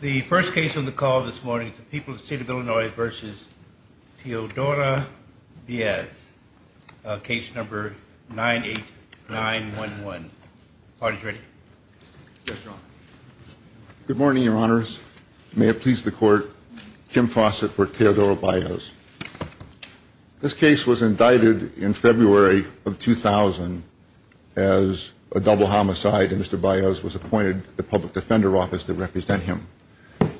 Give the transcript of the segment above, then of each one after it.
The first case on the call this morning is the People's State of Illinois v. Teodora Baez. Case number 98911. Good morning, Your Honors. May it please the Court, Kim Fawcett for Teodora Baez. This case was indicted in February of 2000 as a double homicide, and Mr. Baez was appointed to the Public Defender Office to represent him.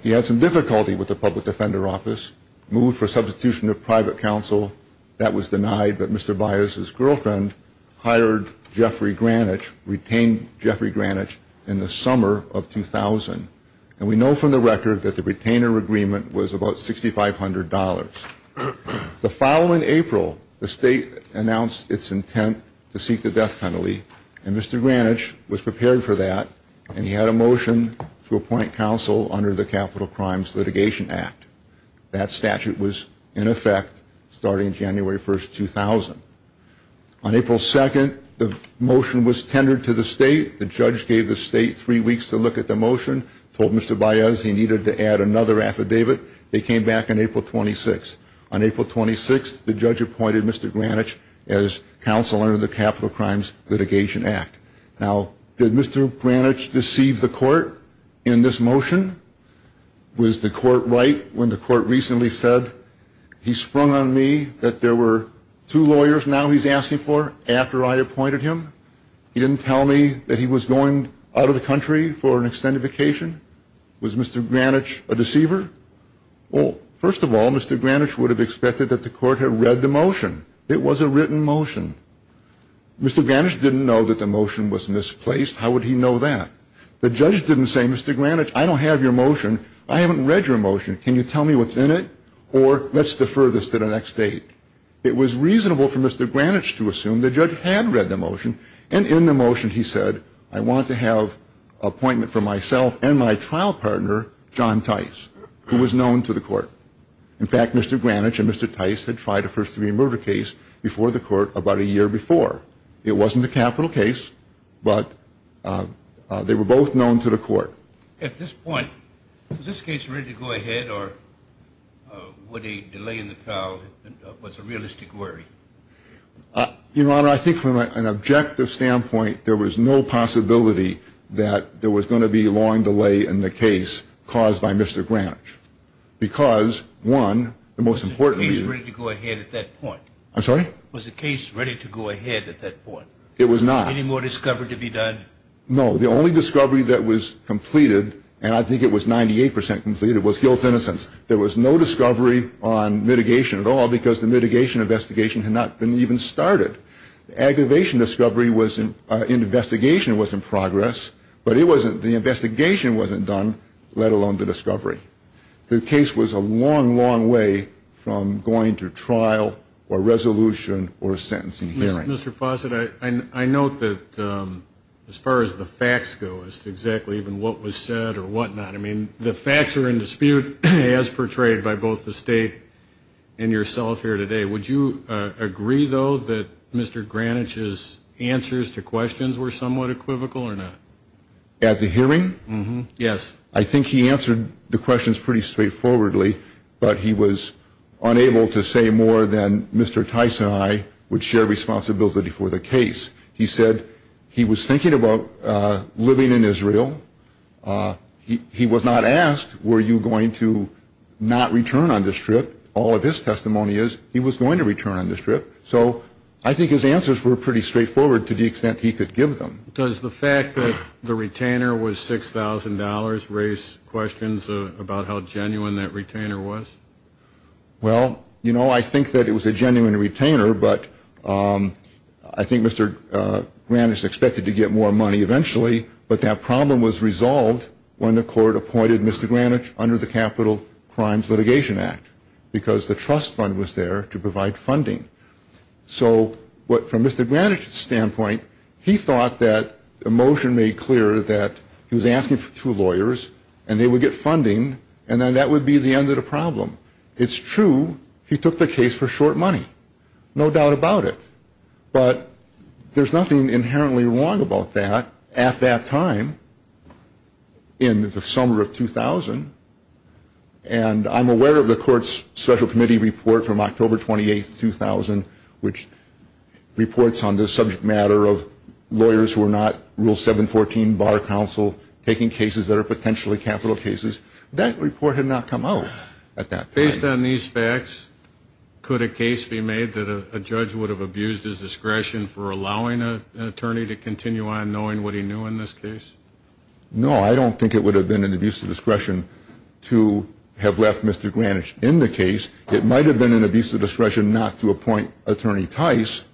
He had some difficulty with the Public Defender Office, moved for substitution to private counsel. That was denied, but Mr. Baez's girlfriend hired Jeffrey Granich, retained Jeffrey Granich in the summer of 2000. And we know from the record that the retainer agreement was about $6,500. The following April, the State announced its intent to seek the death penalty, and Mr. Granich was prepared for that, and he had a motion to appoint counsel under the Capital Crimes Litigation Act. That statute was in effect starting January 1st, 2000. On April 2nd, the motion was tendered to the State. The judge gave the State three weeks to look at the motion, told Mr. Baez he needed to add another affidavit. They came back on April 26th. On April 26th, the judge appointed Mr. Granich as counsel under the Capital Crimes Litigation Act. Now, did Mr. Granich deceive the court in this motion? Was the court right when the court recently said, he sprung on me that there were two lawyers now he's asking for after I appointed him? He didn't tell me that he was going out of the country for an extended vacation? Was Mr. Granich a deceiver? Well, first of all, Mr. Granich would have expected that the court had read the motion. It was a written motion. Mr. Granich didn't know that the motion was misplaced. How would he know that? The judge didn't say, Mr. Granich, I don't have your motion. I haven't read your motion. Can you tell me what's in it? Or let's defer this to the next date. It was reasonable for Mr. Granich to assume the judge had read the motion, and in the motion he said, I want to have an appointment for myself and my trial partner, John Tice, who was known to the court. In fact, Mr. Granich and Mr. Tice had tried a first-degree murder case before the court about a year before. It wasn't a capital case, but they were both known to the court. At this point, is this case ready to go ahead, or would a delay in the trial be a realistic worry? Your Honor, I think from an objective standpoint, there was no possibility that there was going to be a long delay in the case caused by Mr. Granich. Because, one, the most important reason was the case ready to go ahead at that point. I'm sorry? Was the case ready to go ahead at that point? It was not. Any more discovery to be done? No. The only discovery that was completed, and I think it was 98% completed, was guilt-innocence. There was no discovery on mitigation at all, because the mitigation investigation had not been even started. The aggravation discovery in the investigation was in progress, but the investigation wasn't done, let alone the discovery. The case was a long, long way from going to trial or resolution or a sentencing hearing. Mr. Fawcett, I note that as far as the facts go, as to exactly even what was said or whatnot, I mean, the facts are in dispute as portrayed by both the State and yourself here today. Would you agree, though, that Mr. Granich's answers to questions were somewhat equivocal or not? At the hearing? Yes. I think he answered the questions pretty straightforwardly, but he was unable to say more than Mr. Tice and I would share responsibility for the case. He said he was thinking about living in Israel. He was not asked, were you going to not return on this trip? All of his testimony is he was going to return on this trip. So I think his answers were pretty straightforward to the extent he could give them. Does the fact that the retainer was $6,000 raise questions about how genuine that retainer was? Well, you know, I think that it was a genuine retainer, but I think Mr. Granich is expected to get more money eventually, but that problem was resolved when the court appointed Mr. Granich under the Capital Crimes Litigation Act because the trust fund was there to provide funding. So from Mr. Granich's standpoint, he thought that the motion made clear that he was asking for two lawyers and they would get funding and then that would be the end of the problem. It's true he took the case for short money, no doubt about it, but there's nothing inherently wrong about that at that time in the summer of 2000, and I'm aware of the court's special committee report from October 28th, 2000, which reports on the subject matter of lawyers who are not Rule 714 bar counsel taking cases that are potentially capital cases. That report had not come out at that time. Based on these facts, could a case be made that a judge would have abused his discretion for allowing an attorney to continue on knowing what he knew in this case? No, I don't think it would have been an abuse of discretion to have left Mr. Granich in the case. It might have been an abuse of discretion not to appoint Attorney Tice,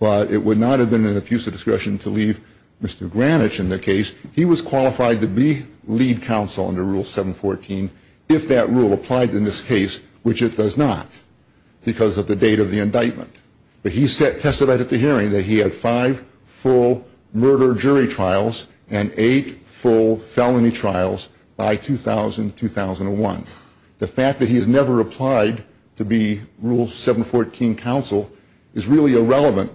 but it would not have been an abuse of discretion to leave Mr. Granich in the case. He was qualified to be lead counsel under Rule 714 if that rule applied in this case, which it does not because of the date of the indictment. But he testified at the hearing that he had five full murder jury trials and eight full felony trials by 2000, 2001. The fact that he has never applied to be Rule 714 counsel is really irrelevant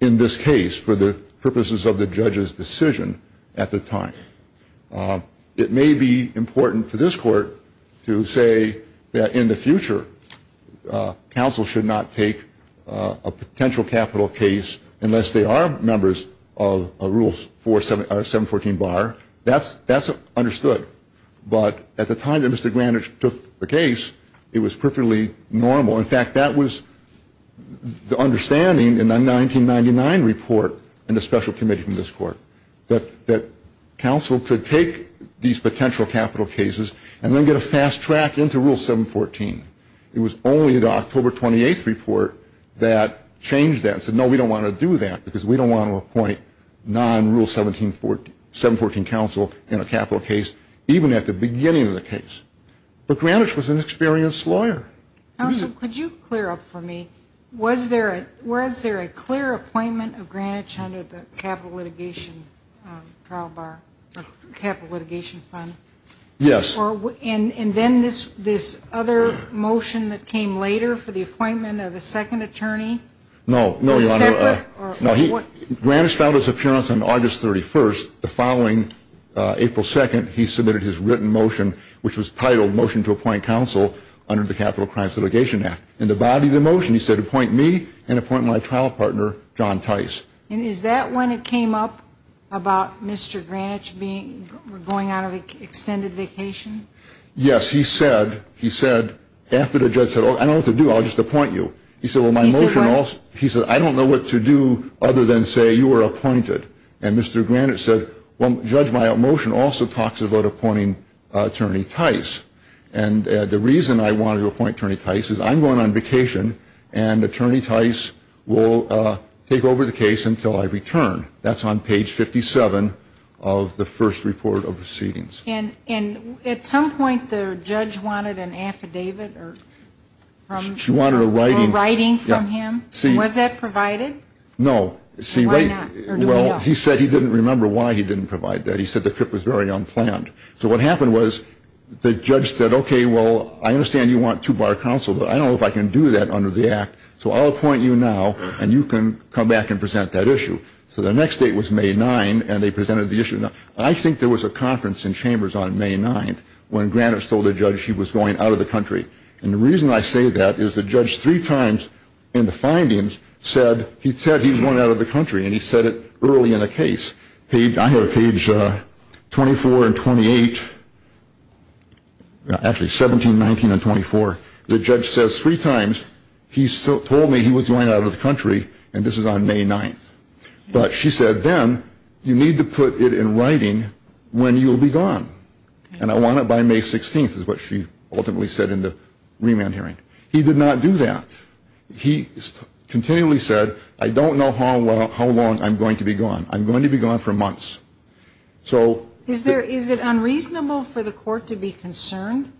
in this case for the purposes of the judge's decision at the time. It may be important for this Court to say that in the future, counsel should not take a potential capital case unless they are members of Rule 714 bar. That's understood. But at the time that Mr. Granich took the case, it was perfectly normal. In fact, that was the understanding in the 1999 report in the special committee from this Court that counsel could take these potential capital cases and then get a fast track into Rule 714. It was only the October 28th report that changed that and said, no, we don't want to do that because we don't want to appoint non-Rule 714 counsel in a capital case even at the beginning of the case. But Granich was an experienced lawyer. Counsel, could you clear up for me? Was there a clear appointment of Granich under the capital litigation trial bar or capital litigation fund? Yes. And then this other motion that came later for the appointment of a second attorney? No, no, Your Honor. A separate? No, Granich filed his appearance on August 31st. The following April 2nd, he submitted his written motion, which was titled Motion to Appoint Counsel under the Capital Crimes Litigation Act. In the body of the motion, he said, appoint me and appoint my trial partner, John Tice. And is that when it came up about Mr. Granich going on an extended vacation? Yes. He said, after the judge said, oh, I don't know what to do. I'll just appoint you. He said, well, my motion also. He said, I don't know what to do other than say you were appointed. And Mr. Granich said, well, Judge, my motion also talks about appointing Attorney Tice. And the reason I wanted to appoint Attorney Tice is I'm going on vacation, and Attorney Tice will take over the case until I return. That's on page 57 of the first report of proceedings. And at some point, the judge wanted an affidavit or writing from him. Was that provided? No. Why not? Well, he said he didn't remember why he didn't provide that. He said the trip was very unplanned. So what happened was the judge said, okay, well, I understand you want two-bar counsel, but I don't know if I can do that under the Act, so I'll appoint you now, and you can come back and present that issue. So the next date was May 9, and they presented the issue. I think there was a conference in Chambers on May 9 when Granich told the judge he was going out of the country. And the reason I say that is the judge three times in the findings said he said he was going out of the country, and he said it early in the case. I have page 24 and 28, actually 17, 19, and 24. The judge says three times he told me he was going out of the country, and this is on May 9. But she said then you need to put it in writing when you'll be gone. And I want it by May 16 is what she ultimately said in the remand hearing. He did not do that. He continually said I don't know how long I'm going to be gone. I'm going to be gone for months. Is it unreasonable for the court to be concerned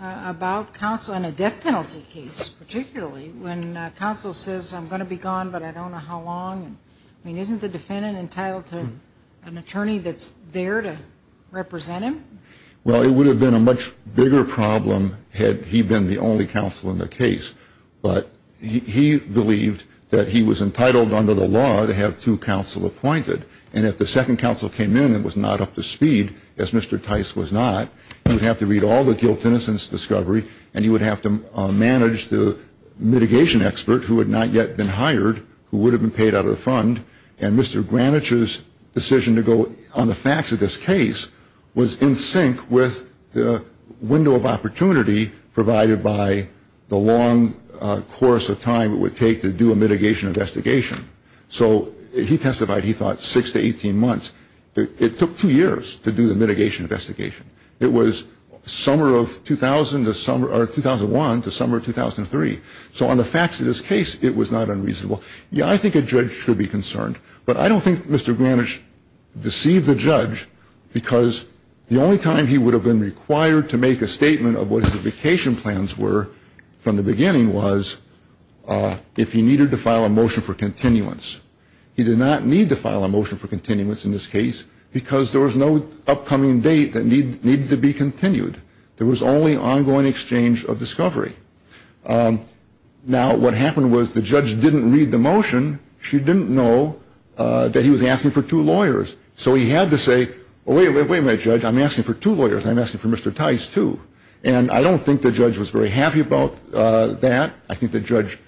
about counsel in a death penalty case, particularly when counsel says I'm going to be gone but I don't know how long? I mean, isn't the defendant entitled to an attorney that's there to represent him? Well, it would have been a much bigger problem had he been the only counsel in the case. But he believed that he was entitled under the law to have two counsel appointed. And if the second counsel came in and was not up to speed, as Mr. Tice was not, he would have to read all the guilt and innocence discovery, and he would have to manage the mitigation expert who had not yet been hired, who would have been paid out of the fund. And Mr. Granich's decision to go on the fax of this case was in sync with the window of opportunity provided by the long course of time it would take to do a mitigation investigation. So he testified, he thought, six to 18 months. It took two years to do the mitigation investigation. It was summer of 2001 to summer of 2003. So on the fax of this case, it was not unreasonable. Yeah, I think a judge should be concerned, but I don't think Mr. Granich deceived the judge because the only time he would have been required to make a statement of what his vacation plans were from the beginning was if he needed to file a motion for continuance. He did not need to file a motion for continuance in this case because there was no upcoming date that needed to be continued. There was only ongoing exchange of discovery. Now, what happened was the judge didn't read the motion. She didn't know that he was asking for two lawyers. So he had to say, well, wait a minute, Judge, I'm asking for two lawyers. I'm asking for Mr. Tice, too. And I don't think the judge was very happy about that. I think the judge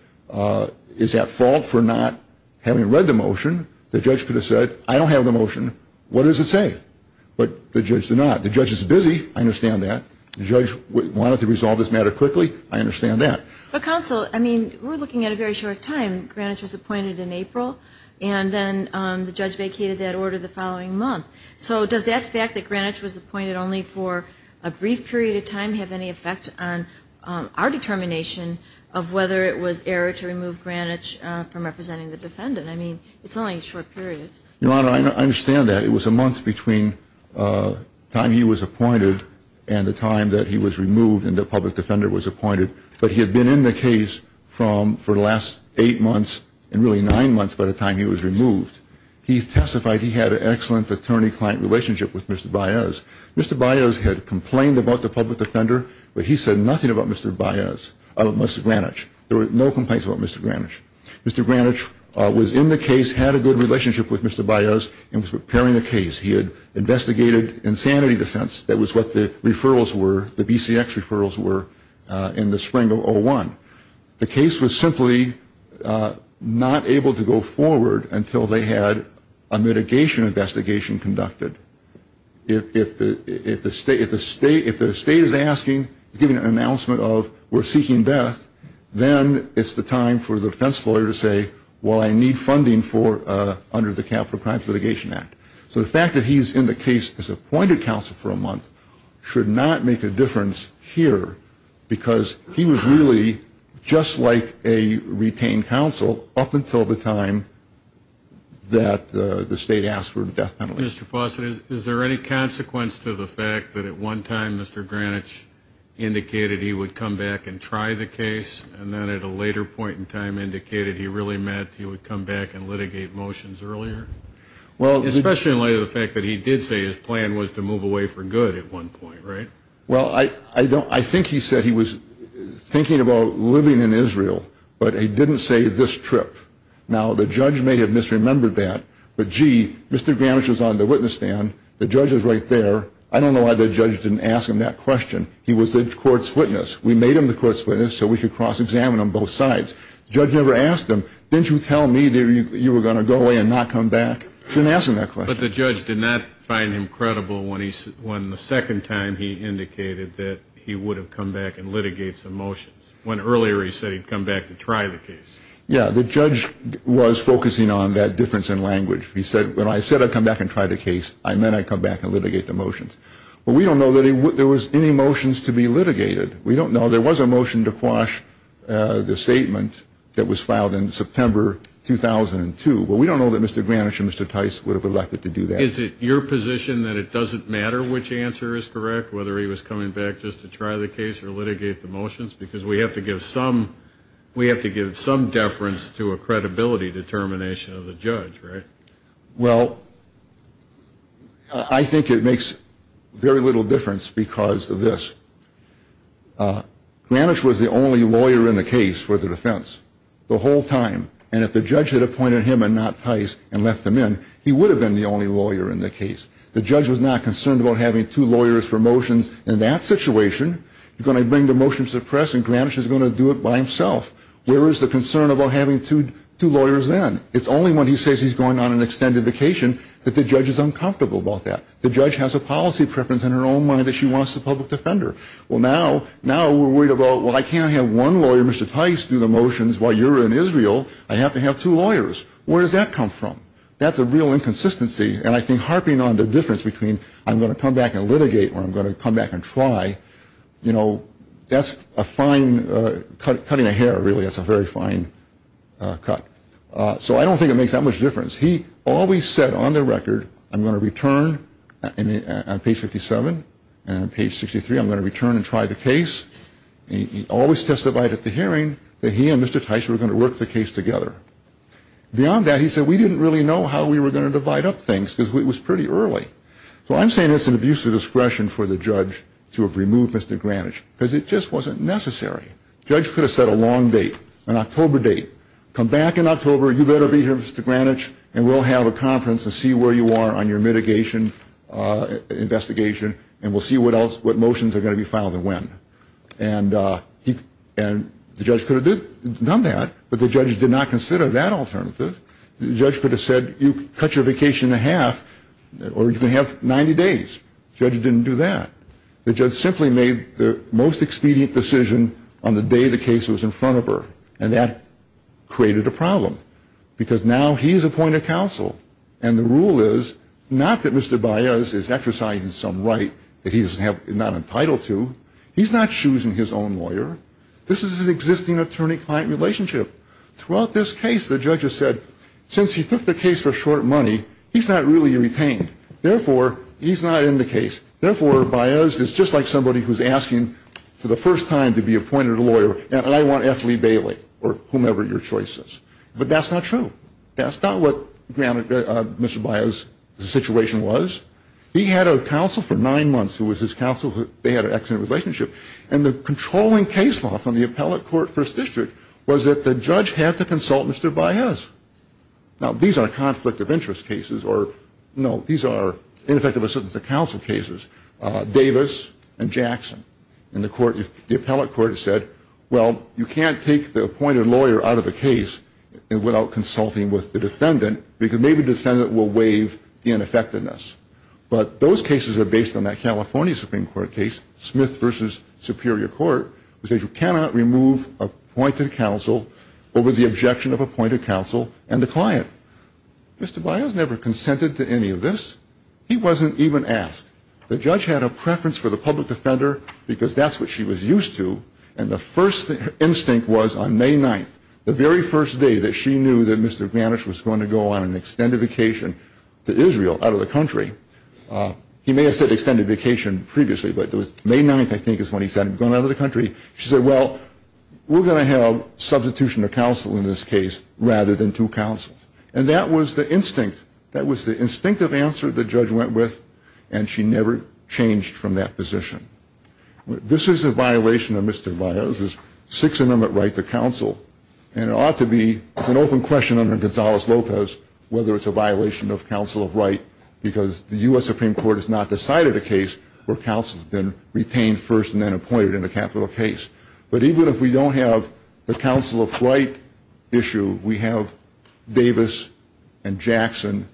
is at fault for not having read the motion. The judge could have said, I don't have the motion. What does it say? But the judge did not. The judge is busy. I understand that. The judge wanted to resolve this matter quickly. I understand that. But, counsel, I mean, we're looking at a very short time. Granich was appointed in April, and then the judge vacated that order the following month. So does that fact that Granich was appointed only for a brief period of time have any effect on our determination of whether it was error to remove Granich from representing the defendant? I mean, it's only a short period. Your Honor, I understand that. It was a month between the time he was appointed and the time that he was removed and the public defender was appointed. But he had been in the case for the last eight months, and really nine months by the time he was removed. He testified he had an excellent attorney-client relationship with Mr. Baez. Mr. Baez had complained about the public defender, but he said nothing about Mr. Baez, about Mr. Granich. There were no complaints about Mr. Granich. Mr. Granich was in the case, had a good relationship with Mr. Baez, and was preparing the case. He had investigated insanity defense. That was what the referrals were, the BCX referrals were, in the spring of 2001. The case was simply not able to go forward until they had a mitigation investigation conducted. If the state is asking, giving an announcement of we're seeking death, then it's the time for the defense lawyer to say, well, I need funding under the Capital Crimes Litigation Act. So the fact that he's in the case as appointed counsel for a month should not make a difference here because he was really just like a retained counsel up until the time that the state asked for a death penalty. Mr. Fawcett, is there any consequence to the fact that at one time Mr. Granich indicated he would come back and try the case, and then at a later point in time indicated he really meant he would come back and litigate motions earlier? Especially in light of the fact that he did say his plan was to move away for good at one point, right? Well, I think he said he was thinking about living in Israel, but he didn't say this trip. Now, the judge may have misremembered that, but, gee, Mr. Granich is on the witness stand. The judge is right there. I don't know why the judge didn't ask him that question. He was the court's witness. We made him the court's witness so we could cross-examine on both sides. The judge never asked him, didn't you tell me that you were going to go away and not come back? You shouldn't ask him that question. But the judge did not find him credible when the second time he indicated that he would have come back and litigated some motions, when earlier he said he'd come back to try the case. Yeah, the judge was focusing on that difference in language. He said, when I said I'd come back and try the case, I meant I'd come back and litigate the motions. But we don't know that there was any motions to be litigated. We don't know. There was a motion to quash the statement that was filed in September 2002. But we don't know that Mr. Granich and Mr. Tice would have elected to do that. Is it your position that it doesn't matter which answer is correct, whether he was coming back just to try the case or litigate the motions? Because we have to give some deference to a credibility determination of the judge, right? Well, I think it makes very little difference because of this. Granich was the only lawyer in the case for the defense the whole time. And if the judge had appointed him and not Tice and left him in, he would have been the only lawyer in the case. The judge was not concerned about having two lawyers for motions in that situation. You're going to bring the motions to the press and Granich is going to do it by himself. Where is the concern about having two lawyers then? It's only when he says he's going on an extended vacation that the judge is uncomfortable about that. The judge has a policy preference in her own mind that she wants a public defender. Well, now we're worried about, well, I can't have one lawyer, Mr. Tice, do the motions while you're in Israel. I have to have two lawyers. Where does that come from? That's a real inconsistency. And I think harping on the difference between I'm going to come back and litigate or I'm going to come back and try, you know, that's a fine cutting a hair, really. That's a very fine cut. So I don't think it makes that much difference. He always said on the record, I'm going to return on page 57 and page 63, I'm going to return and try the case. He always testified at the hearing that he and Mr. Tice were going to work the case together. Beyond that, he said we didn't really know how we were going to divide up things because it was pretty early. So I'm saying it's an abuse of discretion for the judge to have removed Mr. Granich because it just wasn't necessary. The judge could have set a long date, an October date, come back in October, you better be here, Mr. Granich, and we'll have a conference and see where you are on your mitigation investigation, and we'll see what motions are going to be filed and when. And the judge could have done that, but the judge did not consider that alternative. The judge could have said you cut your vacation in half or you can have 90 days. The judge didn't do that. The judge simply made the most expedient decision on the day the case was in front of her, and that created a problem because now he is appointed counsel, and the rule is not that Mr. Baez is exercising some right that he is not entitled to. He's not choosing his own lawyer. This is an existing attorney-client relationship. Throughout this case, the judge has said since he took the case for short money, he's not really retained. Therefore, he's not in the case. Therefore, Baez is just like somebody who's asking for the first time to be appointed a lawyer, and I want F. Lee Bailey or whomever your choice is. But that's not true. That's not what Mr. Baez's situation was. He had a counsel for nine months who was his counsel. They had an excellent relationship, and the controlling case law from the appellate court first district was that the judge had to consult Mr. Baez. Now, these are conflict of interest cases, or no, these are ineffective assistance of counsel cases. Davis and Jackson in the court, the appellate court said, well, you can't take the appointed lawyer out of a case without consulting with the defendant because maybe the defendant will waive the ineffectiveness. But those cases are based on that California Supreme Court case, Smith v. Superior Court, which says you cannot remove appointed counsel over the objection of appointed counsel and the client. Mr. Baez never consented to any of this. He wasn't even asked. The judge had a preference for the public defender because that's what she was used to, and the first instinct was on May 9th, the very first day that she knew that Mr. Granish was going to go on an extended vacation to Israel, out of the country, he may have said extended vacation previously, but it was May 9th, I think, is when he said he was going out of the country. She said, well, we're going to have substitution of counsel in this case rather than two counsels, and that was the instinct. That was the instinctive answer the judge went with, and she never changed from that position. This is a violation of Mr. Baez's Sixth Amendment right to counsel, and it ought to be an open question under Gonzales-Lopez whether it's a violation of counsel of right because the U.S. Supreme Court has not decided a case where counsel has been retained first and then appointed in a capital case. But even if we don't have the counsel of right issue, we have Davis and Jackson,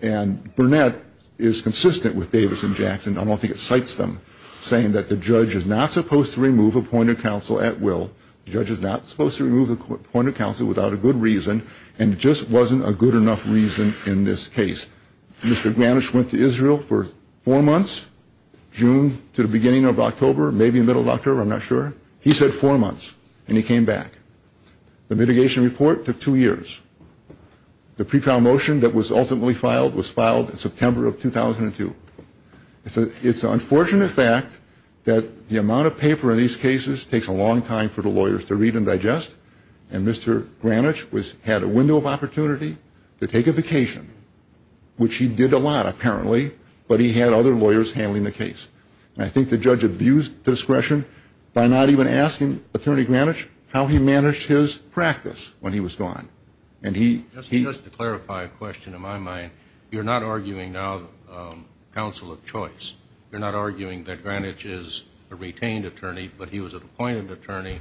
and Burnett is consistent with Davis and Jackson. I don't think it cites them saying that the judge is not supposed to remove appointed counsel at will, the judge is not supposed to remove appointed counsel without a good reason, and it just wasn't a good enough reason in this case. Mr. Granish went to Israel for four months, June to the beginning of October, maybe middle of October, I'm not sure. He said four months, and he came back. The mitigation report took two years. The pre-trial motion that was ultimately filed was filed in September of 2002. It's an unfortunate fact that the amount of paper in these cases takes a long time for the lawyers to read and digest, and Mr. Granish had a window of opportunity to take a vacation, which he did a lot apparently, but he had other lawyers handling the case. And I think the judge abused discretion by not even asking Attorney Granish how he managed his practice when he was gone. Just to clarify a question in my mind, you're not arguing now counsel of choice. You're not arguing that Granish is a retained attorney, but he was an appointed attorney,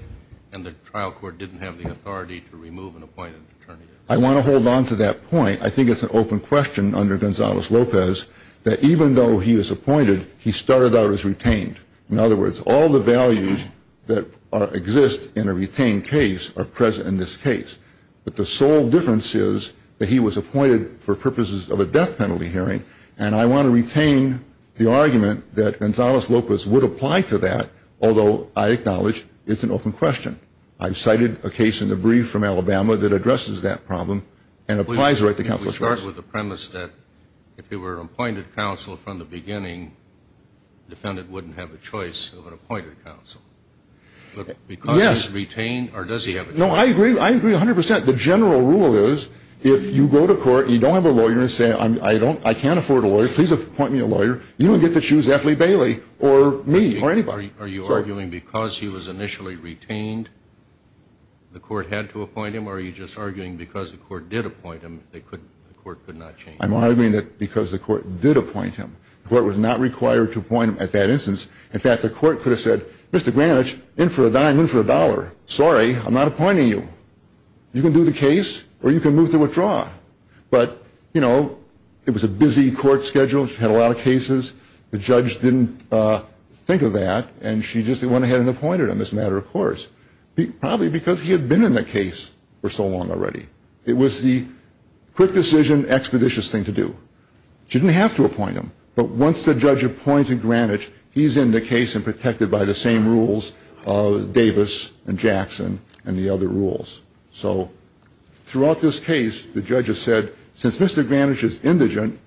and the trial court didn't have the authority to remove an appointed attorney. I want to hold on to that point. I think it's an open question under Gonzales-Lopez that even though he was appointed, he started out as retained. In other words, all the values that exist in a retained case are present in this case, but the sole difference is that he was appointed for purposes of a death penalty hearing, and I want to retain the argument that Gonzales-Lopez would apply to that, although I acknowledge it's an open question. I've cited a case in the brief from Alabama that addresses that problem and applies the right to counsel of choice. Let me start with the premise that if it were appointed counsel from the beginning, the defendant wouldn't have a choice of an appointed counsel. Yes. But because he's retained, or does he have a choice? No, I agree. I agree 100 percent. The general rule is if you go to court and you don't have a lawyer and say, I can't afford a lawyer, please appoint me a lawyer, you don't get to choose Ethley Bailey or me or anybody. Are you arguing because he was initially retained, the court had to appoint him, or are you just arguing because the court did appoint him, the court could not change him? I'm arguing that because the court did appoint him. The court was not required to appoint him at that instance. In fact, the court could have said, Mr. Granish, in for a dime, in for a dollar. Sorry, I'm not appointing you. You can do the case or you can move to withdraw. But, you know, it was a busy court schedule. She had a lot of cases. The judge didn't think of that, and she just went ahead and appointed him as a matter of course, probably because he had been in the case for so long already. It was the quick decision, expeditious thing to do. She didn't have to appoint him, but once the judge appointed Granish, he's in the case and protected by the same rules, Davis and Jackson and the other rules. So throughout this case, the judge has said, since Mr. Granish is indigent,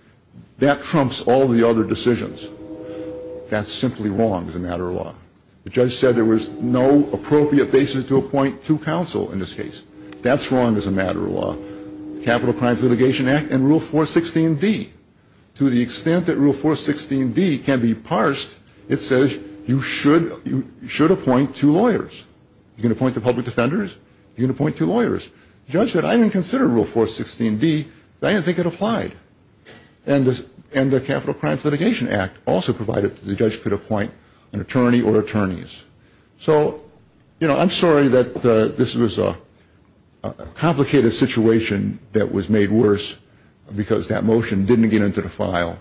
that trumps all the other decisions. That's simply wrong as a matter of law. The judge said there was no appropriate basis to appoint to counsel in this case. That's wrong as a matter of law. Capital Crimes Litigation Act and Rule 416d. To the extent that Rule 416d can be parsed, it says you should appoint two lawyers. You can appoint the public defenders. You can appoint two lawyers. The judge said, I didn't consider Rule 416d. I didn't think it applied. And the Capital Crimes Litigation Act also provided the judge could appoint an attorney or attorneys. So, you know, I'm sorry that this was a complicated situation that was made worse because that motion didn't get into the file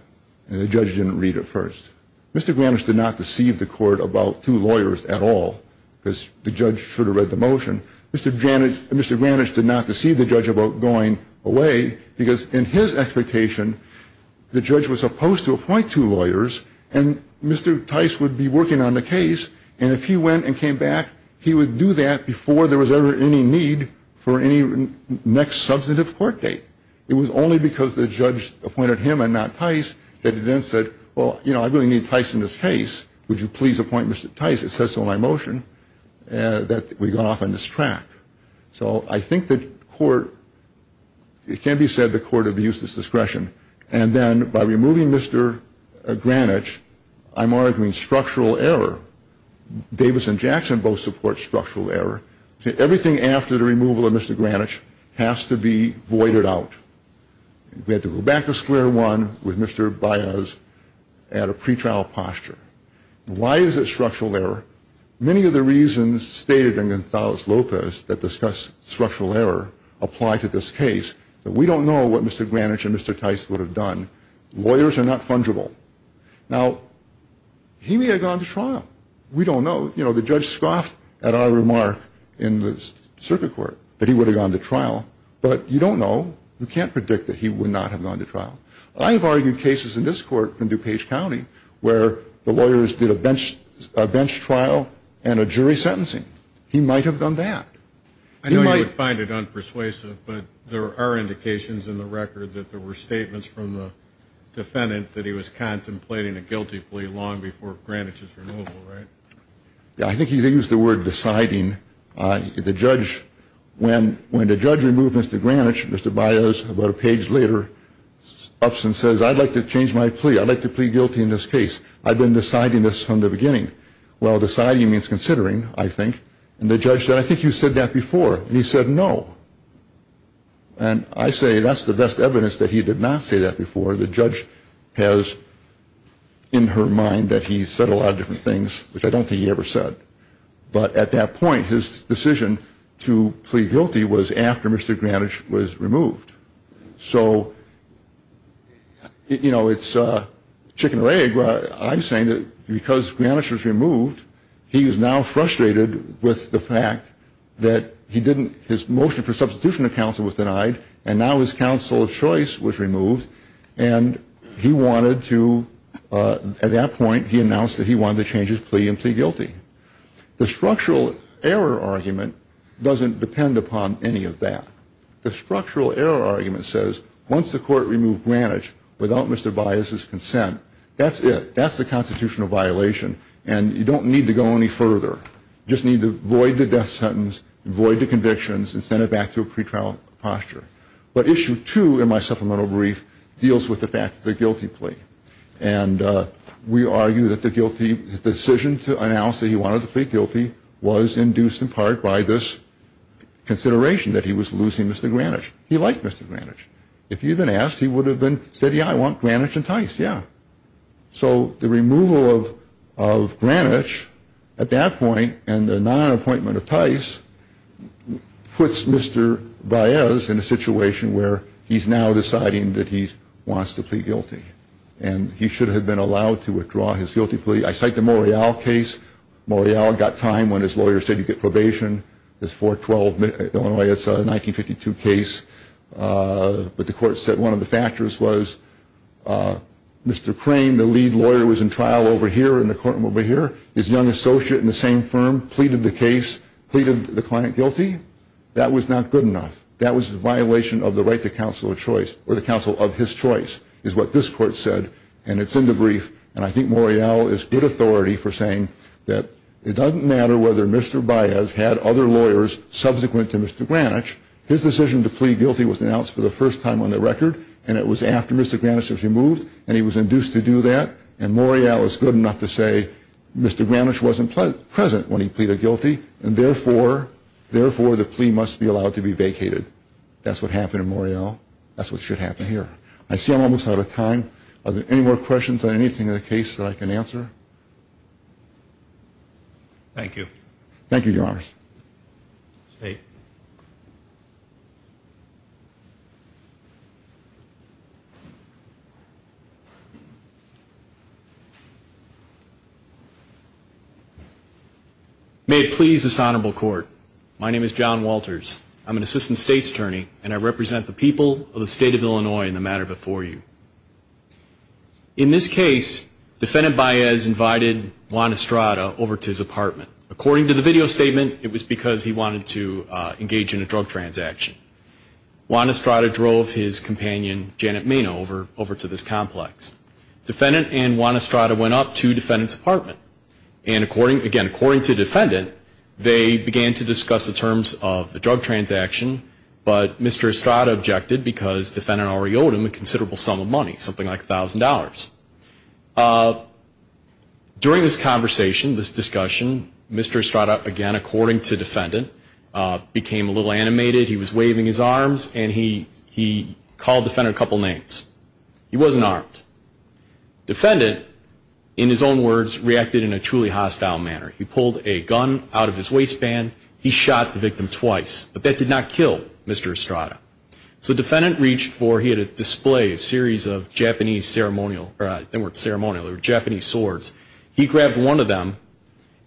and the judge didn't read it first. Mr. Granish did not deceive the court about two lawyers at all because the judge should have read the motion. Mr. Granish did not deceive the judge about going away because, in his expectation, the judge was supposed to appoint two lawyers and Mr. Tice would be working on the case, and if he went and came back, he would do that before there was ever any need for any next substantive court date. It was only because the judge appointed him and not Tice that he then said, well, you know, I really need Tice in this case. Would you please appoint Mr. Tice? It says so in my motion that we got off on this track. So I think the court, it can be said the court abused its discretion, and then by removing Mr. Granish, I'm arguing structural error. Davis and Jackson both support structural error. Everything after the removal of Mr. Granish has to be voided out. We have to go back to square one with Mr. Baez at a pretrial posture. Why is it structural error? Many of the reasons stated in Gonzalez-Lopez that discuss structural error apply to this case, but we don't know what Mr. Granish and Mr. Tice would have done. Lawyers are not fungible. Now, he may have gone to trial. We don't know. You know, the judge scoffed at our remark in the circuit court that he would have gone to trial, but you don't know. You can't predict that he would not have gone to trial. I have argued cases in this court in DuPage County where the lawyers did a bench trial and a jury sentencing. He might have done that. I know you would find it unpersuasive, but there are indications in the record that there were statements from the defendant that he was contemplating a guilty plea long before Granish's removal, right? I think he used the word deciding. The judge, when the judge removed Mr. Granish, Mr. Baez, about a page later, ups and says, I'd like to change my plea. I'd like to plea guilty in this case. I've been deciding this from the beginning. Well, deciding means considering, I think. And the judge said, I think you said that before. And he said no. And I say that's the best evidence that he did not say that before. The judge has in her mind that he said a lot of different things, which I don't think he ever said. But at that point, his decision to plea guilty was after Mr. Granish was removed. So, you know, it's chicken or egg. I'm saying that because Granish was removed, he is now frustrated with the fact that his motion for substitution of counsel was denied and now his counsel of choice was removed, and he wanted to, at that point, he announced that he wanted to change his plea and plea guilty. The structural error argument doesn't depend upon any of that. The structural error argument says once the court removed Granish without Mr. Baez's consent, that's it. That's the constitutional violation, and you don't need to go any further. You just need to void the death sentence, void the convictions, and send it back to a pretrial posture. But issue two in my supplemental brief deals with the fact that the guilty plea. And we argue that the decision to announce that he wanted to plea guilty was induced in part by this consideration, that he was losing Mr. Granish. He liked Mr. Granish. If he had been asked, he would have said, yeah, I want Granish enticed, yeah. So the removal of Granish at that point and the non-appointment of Tice puts Mr. Baez in a situation where he's now deciding that he wants to plea guilty, and he should have been allowed to withdraw his guilty plea. I cite the Morial case. Morial got time when his lawyer said you get probation. It's 4-12, Illinois. It's a 1952 case. But the court said one of the factors was Mr. Crane, the lead lawyer, was in trial over here in the courtroom over here. His young associate in the same firm pleaded the case, pleaded the client guilty. That was not good enough. That was a violation of the right to counsel of choice or the counsel of his choice is what this court said, and it's in the brief. And I think Morial is good authority for saying that it doesn't matter whether Mr. Baez had other lawyers subsequent to Mr. Granish. His decision to plea guilty was announced for the first time on the record, and it was after Mr. Granish was removed, and he was induced to do that. And Morial is good enough to say Mr. Granish wasn't present when he pleaded guilty, and therefore the plea must be allowed to be vacated. That's what happened in Morial. That's what should happen here. I see I'm almost out of time. Are there any more questions on anything in the case that I can answer? Thank you. Thank you, Your Honors. State. May it please this honorable court, my name is John Walters. I'm an assistant state's attorney, and I represent the people of the state of Illinois in the matter before you. In this case, Defendant Baez invited Juan Estrada over to his apartment. According to the video statement, it was because he wanted to engage in a drug transaction. Juan Estrada drove his companion, Janet Maino, over to this complex. Defendant and Juan Estrada went up to Defendant's apartment. And, again, according to Defendant, they began to discuss the terms of the drug transaction, but Mr. Estrada objected because Defendant already owed him a considerable sum of money, something like $1,000. During this conversation, this discussion, Mr. Estrada, again, according to Defendant, became a little animated. He was waving his arms, and he called Defendant a couple names. He wasn't armed. Defendant, in his own words, reacted in a truly hostile manner. He pulled a gun out of his waistband. He shot the victim twice, but that did not kill Mr. Estrada. So Defendant reached for, he had a display, a series of Japanese ceremonial, they weren't ceremonial, they were Japanese swords. He grabbed one of them,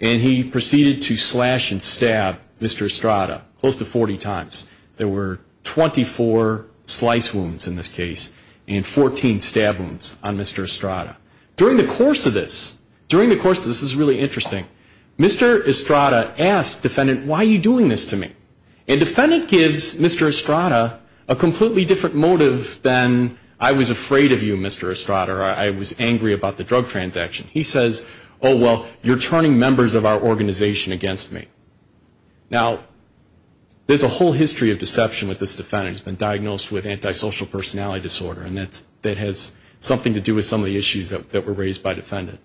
and he proceeded to slash and stab Mr. Estrada close to 40 times. There were 24 slice wounds in this case and 14 stab wounds on Mr. Estrada. During the course of this, during the course of this, this is really interesting, Mr. Estrada asked Defendant, why are you doing this to me? And Defendant gives Mr. Estrada a completely different motive than I was afraid of you, Mr. Estrada, or I was angry about the drug transaction. He says, oh, well, you're turning members of our organization against me. Now, there's a whole history of deception with this Defendant. He's been diagnosed with antisocial personality disorder, and that has something to do with some of the issues that were raised by Defendant.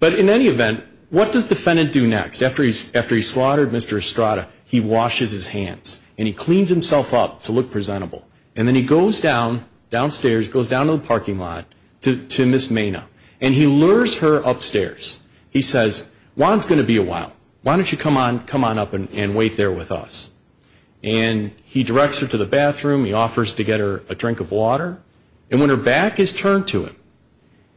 But in any event, what does Defendant do next? After he's slaughtered Mr. Estrada, he washes his hands, and he cleans himself up to look presentable. And then he goes down, downstairs, goes down to the parking lot to Ms. Mena, and he lures her upstairs. He says, Juan's going to be a while. Why don't you come on up and wait there with us? And he directs her to the bathroom. He offers to get her a drink of water. And when her back is turned to him,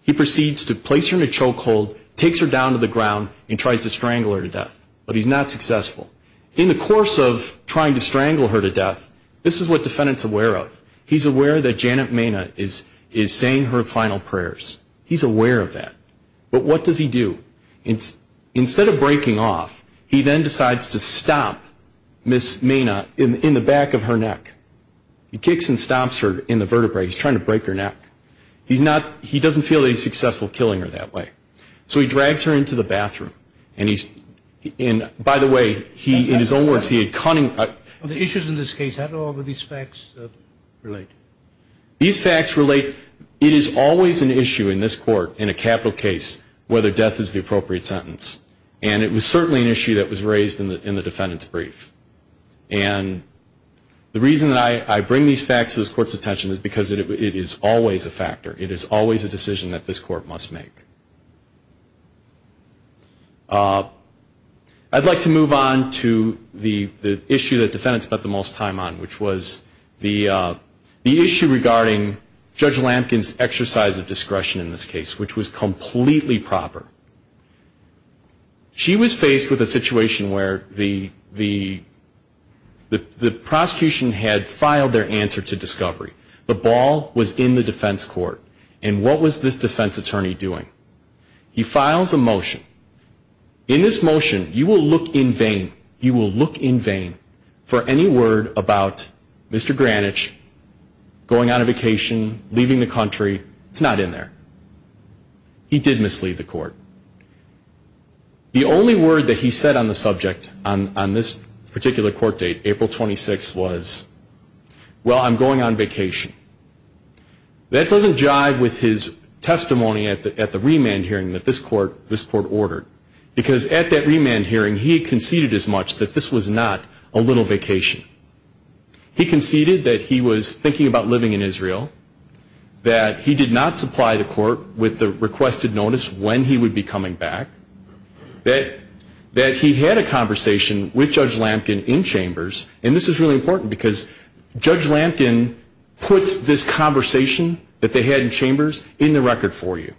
he proceeds to place her in a chokehold, takes her down to the ground, and tries to strangle her to death. But he's not successful. In the course of trying to strangle her to death, this is what Defendant's aware of. He's aware that Janet Mena is saying her final prayers. He's aware of that. But what does he do? Instead of breaking off, he then decides to stomp Ms. Mena in the back of her neck. He kicks and stomps her in the vertebrae. He's trying to break her neck. He doesn't feel that he's successful killing her that way. So he drags her into the bathroom. And, by the way, in his own words, he had cunning. The issues in this case, how do all of these facts relate? These facts relate. It is always an issue in this court, in a capital case, whether death is the appropriate sentence. And the reason that I bring these facts to this court's attention is because it is always a factor. It is always a decision that this court must make. I'd like to move on to the issue that Defendants spent the most time on, which was the issue regarding Judge Lampkin's exercise of discretion in this case, which was completely proper. She was faced with a situation where the prosecution had filed their answer to discovery. The ball was in the defense court. And what was this defense attorney doing? He files a motion. In this motion, you will look in vain. You will look in vain for any word about Mr. Granich going on a vacation, leaving the country. It's not in there. He did mislead the court. The only word that he said on the subject on this particular court date, April 26, was, well, I'm going on vacation. That doesn't jive with his testimony at the remand hearing that this court ordered, because at that remand hearing, he conceded as much that this was not a little vacation. He conceded that he was thinking about living in Israel, that he did not supply the court with the requested notice when he would be coming back, that he had a conversation with Judge Lampkin in chambers. And this is really important, because Judge Lampkin puts this conversation that they had in chambers in the record for you.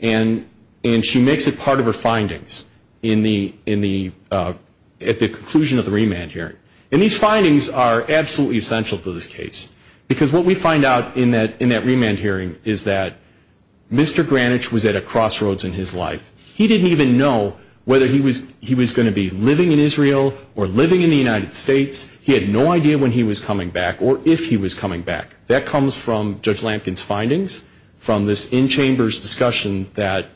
And she makes it part of her findings at the conclusion of the remand hearing. And these findings are absolutely essential to this case, because what we find out in that remand hearing is that Mr. Granich was at a crossroads in his life. He didn't even know whether he was going to be living in Israel or living in the United States. He had no idea when he was coming back or if he was coming back. That comes from Judge Lampkin's findings from this in-chambers discussion that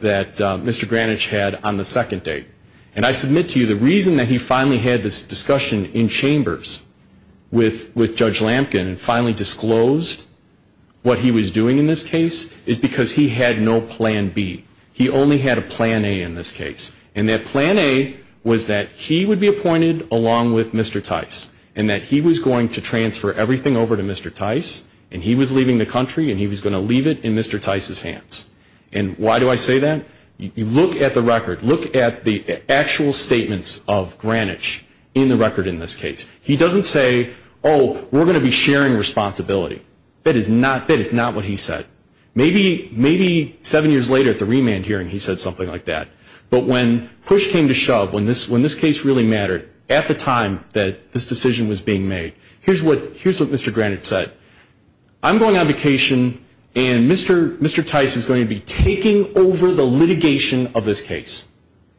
Mr. Granich had on the second date. And I submit to you the reason that he finally had this discussion in chambers with Judge Lampkin and finally disclosed what he was doing in this case is because he had no plan B. He only had a plan A in this case. And that plan A was that he would be appointed along with Mr. Tice, and that he was going to transfer everything over to Mr. Tice, and he was leaving the country and he was going to leave it in Mr. Tice's hands. And why do I say that? You look at the record. Look at the actual statements of Granich in the record in this case. He doesn't say, oh, we're going to be sharing responsibility. That is not what he said. Maybe seven years later at the remand hearing he said something like that. But when push came to shove, when this case really mattered at the time that this decision was being made, here's what Mr. Granich said. I'm going on vacation and Mr. Tice is going to be taking over the litigation of this case.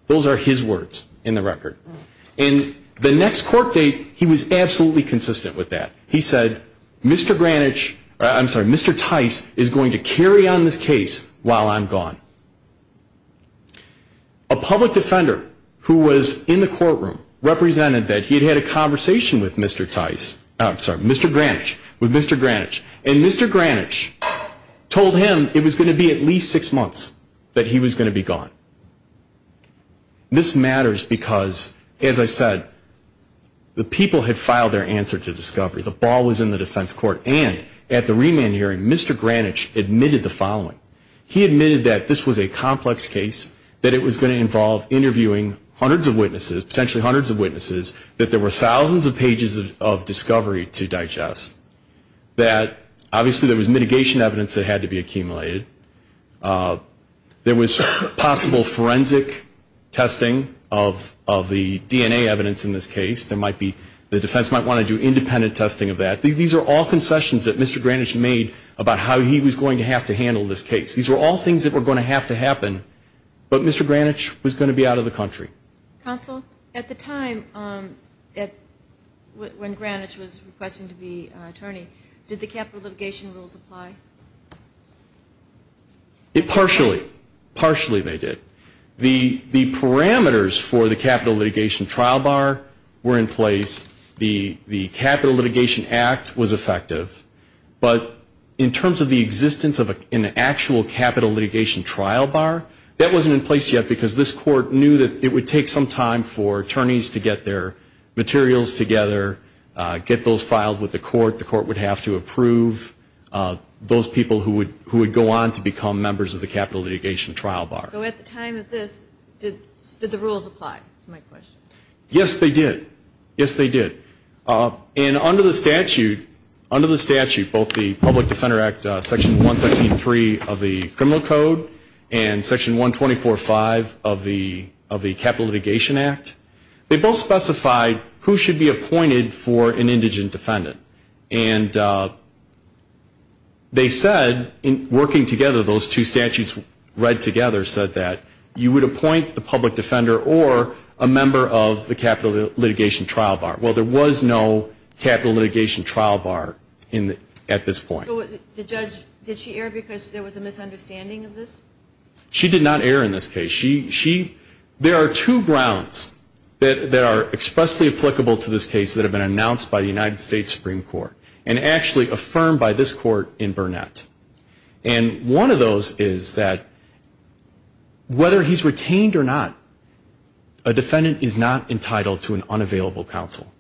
Those are his words in the record. And the next court date he was absolutely consistent with that. He said, Mr. Granich, I'm sorry, Mr. Tice is going to carry on this case while I'm gone. A public defender who was in the courtroom represented that he had had a conversation with Mr. Tice, I'm sorry, Mr. Granich, with Mr. Granich. And Mr. Granich told him it was going to be at least six months that he was going to be gone. This matters because, as I said, the people had filed their answer to discovery. The ball was in the defense court. And at the remand hearing Mr. Granich admitted the following. He admitted that this was a complex case, that it was going to involve interviewing hundreds of witnesses, potentially hundreds of witnesses, that there were thousands of pages of discovery to digest, that obviously there was mitigation evidence that had to be accumulated. There was possible forensic testing of the DNA evidence in this case. The defense might want to do independent testing of that. These are all concessions that Mr. Granich made about how he was going to have to handle this case. These were all things that were going to have to happen, but Mr. Granich was going to be out of the country. Counsel, at the time when Granich was requesting to be attorney, did the capital litigation rules apply? Partially. Partially they did. The parameters for the capital litigation trial bar were in place. The capital litigation act was effective. But in terms of the existence of an actual capital litigation trial bar, that wasn't in place yet because this court knew that it would take some time for attorneys to get their materials together, get those filed with the court. The court would have to approve those people who would go on to become members of the capital litigation trial bar. So at the time of this, did the rules apply is my question. Yes, they did. Yes, they did. And under the statute, both the Public Defender Act Section 133 of the Criminal Code and Section 124.5 of the Capital Litigation Act, they both specified who should be appointed for an indigent defendant. And they said, working together, those two statutes read together said that you would appoint the public defender or a member of the capital litigation trial bar. Well, there was no capital litigation trial bar at this point. So the judge, did she err because there was a misunderstanding of this? She did not err in this case. There are two grounds that are expressly applicable to this case that have been announced by the United States Supreme Court and actually affirmed by this court in Burnett. And one of those is that whether he's retained or not, a defendant is not entitled to an unavailable counsel.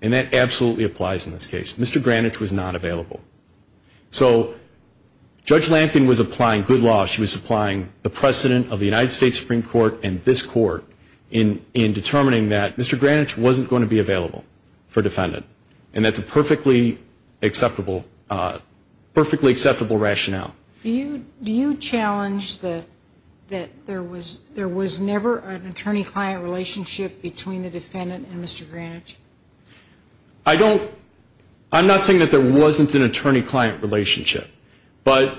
And that absolutely applies in this case. Mr. Granich was not available. So Judge Lampkin was applying good law. She was applying the precedent of the United States Supreme Court and this court in determining that Mr. Granich wasn't going to be available for defendant. And that's a perfectly acceptable rationale. Do you challenge that there was never an attorney-client relationship between the defendant and Mr. Granich? I don't. I'm not saying that there wasn't an attorney-client relationship. But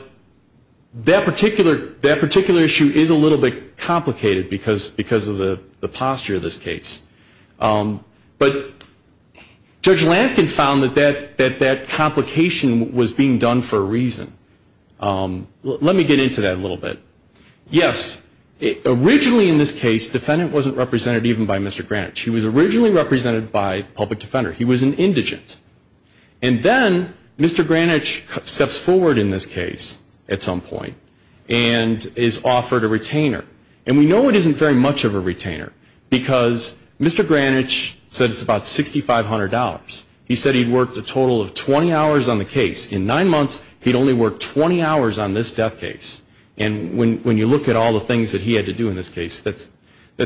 that particular issue is a little bit complicated because of the posture of this case. But Judge Lampkin found that that complication was being done for a reason. Let me get into that a little bit. Yes, originally in this case, defendant wasn't represented even by Mr. Granich. He was originally represented by public defender. He was an indigent. And then Mr. Granich steps forward in this case at some point and is offered a retainer. And we know it isn't very much of a retainer because Mr. Granich says it's about $6,500. He said he'd worked a total of 20 hours on the case. In nine months, he'd only worked 20 hours on this death case. And when you look at all the things that he had to do in this case, that's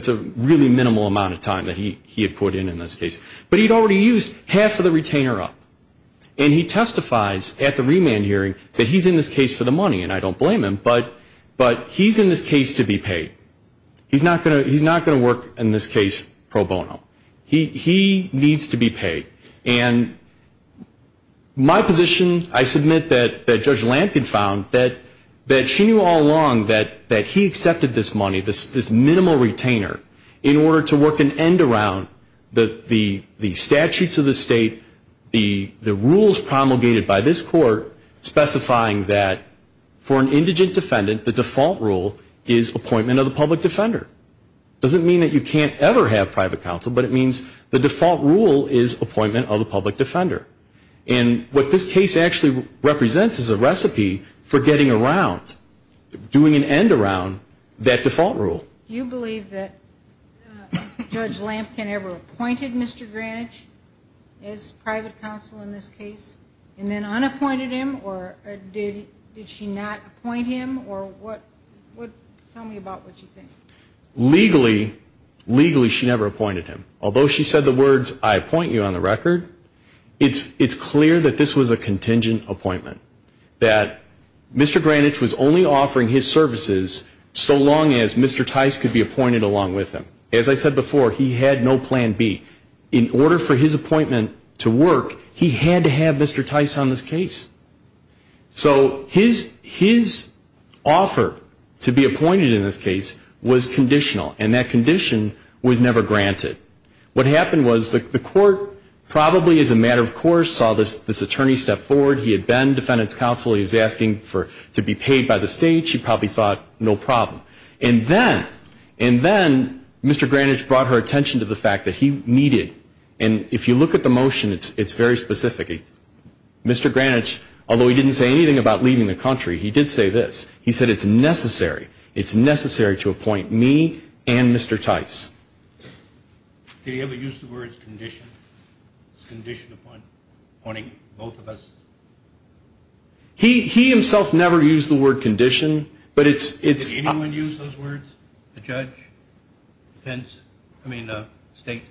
a really minimal amount of time that he had put in in this case. But he'd already used half of the retainer up. And he testifies at the remand hearing that he's in this case for the money, and I don't blame him. But he's in this case to be paid. He's not going to work in this case pro bono. He needs to be paid. And my position, I submit that Judge Lampkin found that she knew all along that he accepted this money, this minimal retainer, in order to work an end around the statutes of the state, the rules promulgated by this court specifying that for an indigent defendant, the default rule is appointment of the public defender. It doesn't mean that you can't ever have private counsel, but it means the default rule is appointment of the public defender. And what this case actually represents is a recipe for getting around, doing an end around that default rule. Do you believe that Judge Lampkin ever appointed Mr. Granich as private counsel in this case, and then unappointed him, or did she not appoint him, or what? Tell me about what you think. Legally, legally she never appointed him. Although she said the words, I appoint you on the record, it's clear that this was a contingent appointment, that Mr. Granich was only offering his services so long as Mr. Tice could be appointed along with him. As I said before, he had no plan B. In order for his appointment to work, he had to have Mr. Tice on this case. So his offer to be appointed in this case was conditional, and that condition was never granted. What happened was the court probably as a matter of course saw this attorney step forward. He had been defendant's counsel. He was asking to be paid by the state. She probably thought, no problem. And then, and then Mr. Granich brought her attention to the fact that he needed, and if you look at the motion, it's very specific. Mr. Granich, although he didn't say anything about leaving the country, he did say this. He said it's necessary, it's necessary to appoint me and Mr. Tice. Did he ever use the words condition? Condition appointing both of us? He, he himself never used the word condition, but it's, it's. Did anyone use those words? A judge? A defense? I mean a state?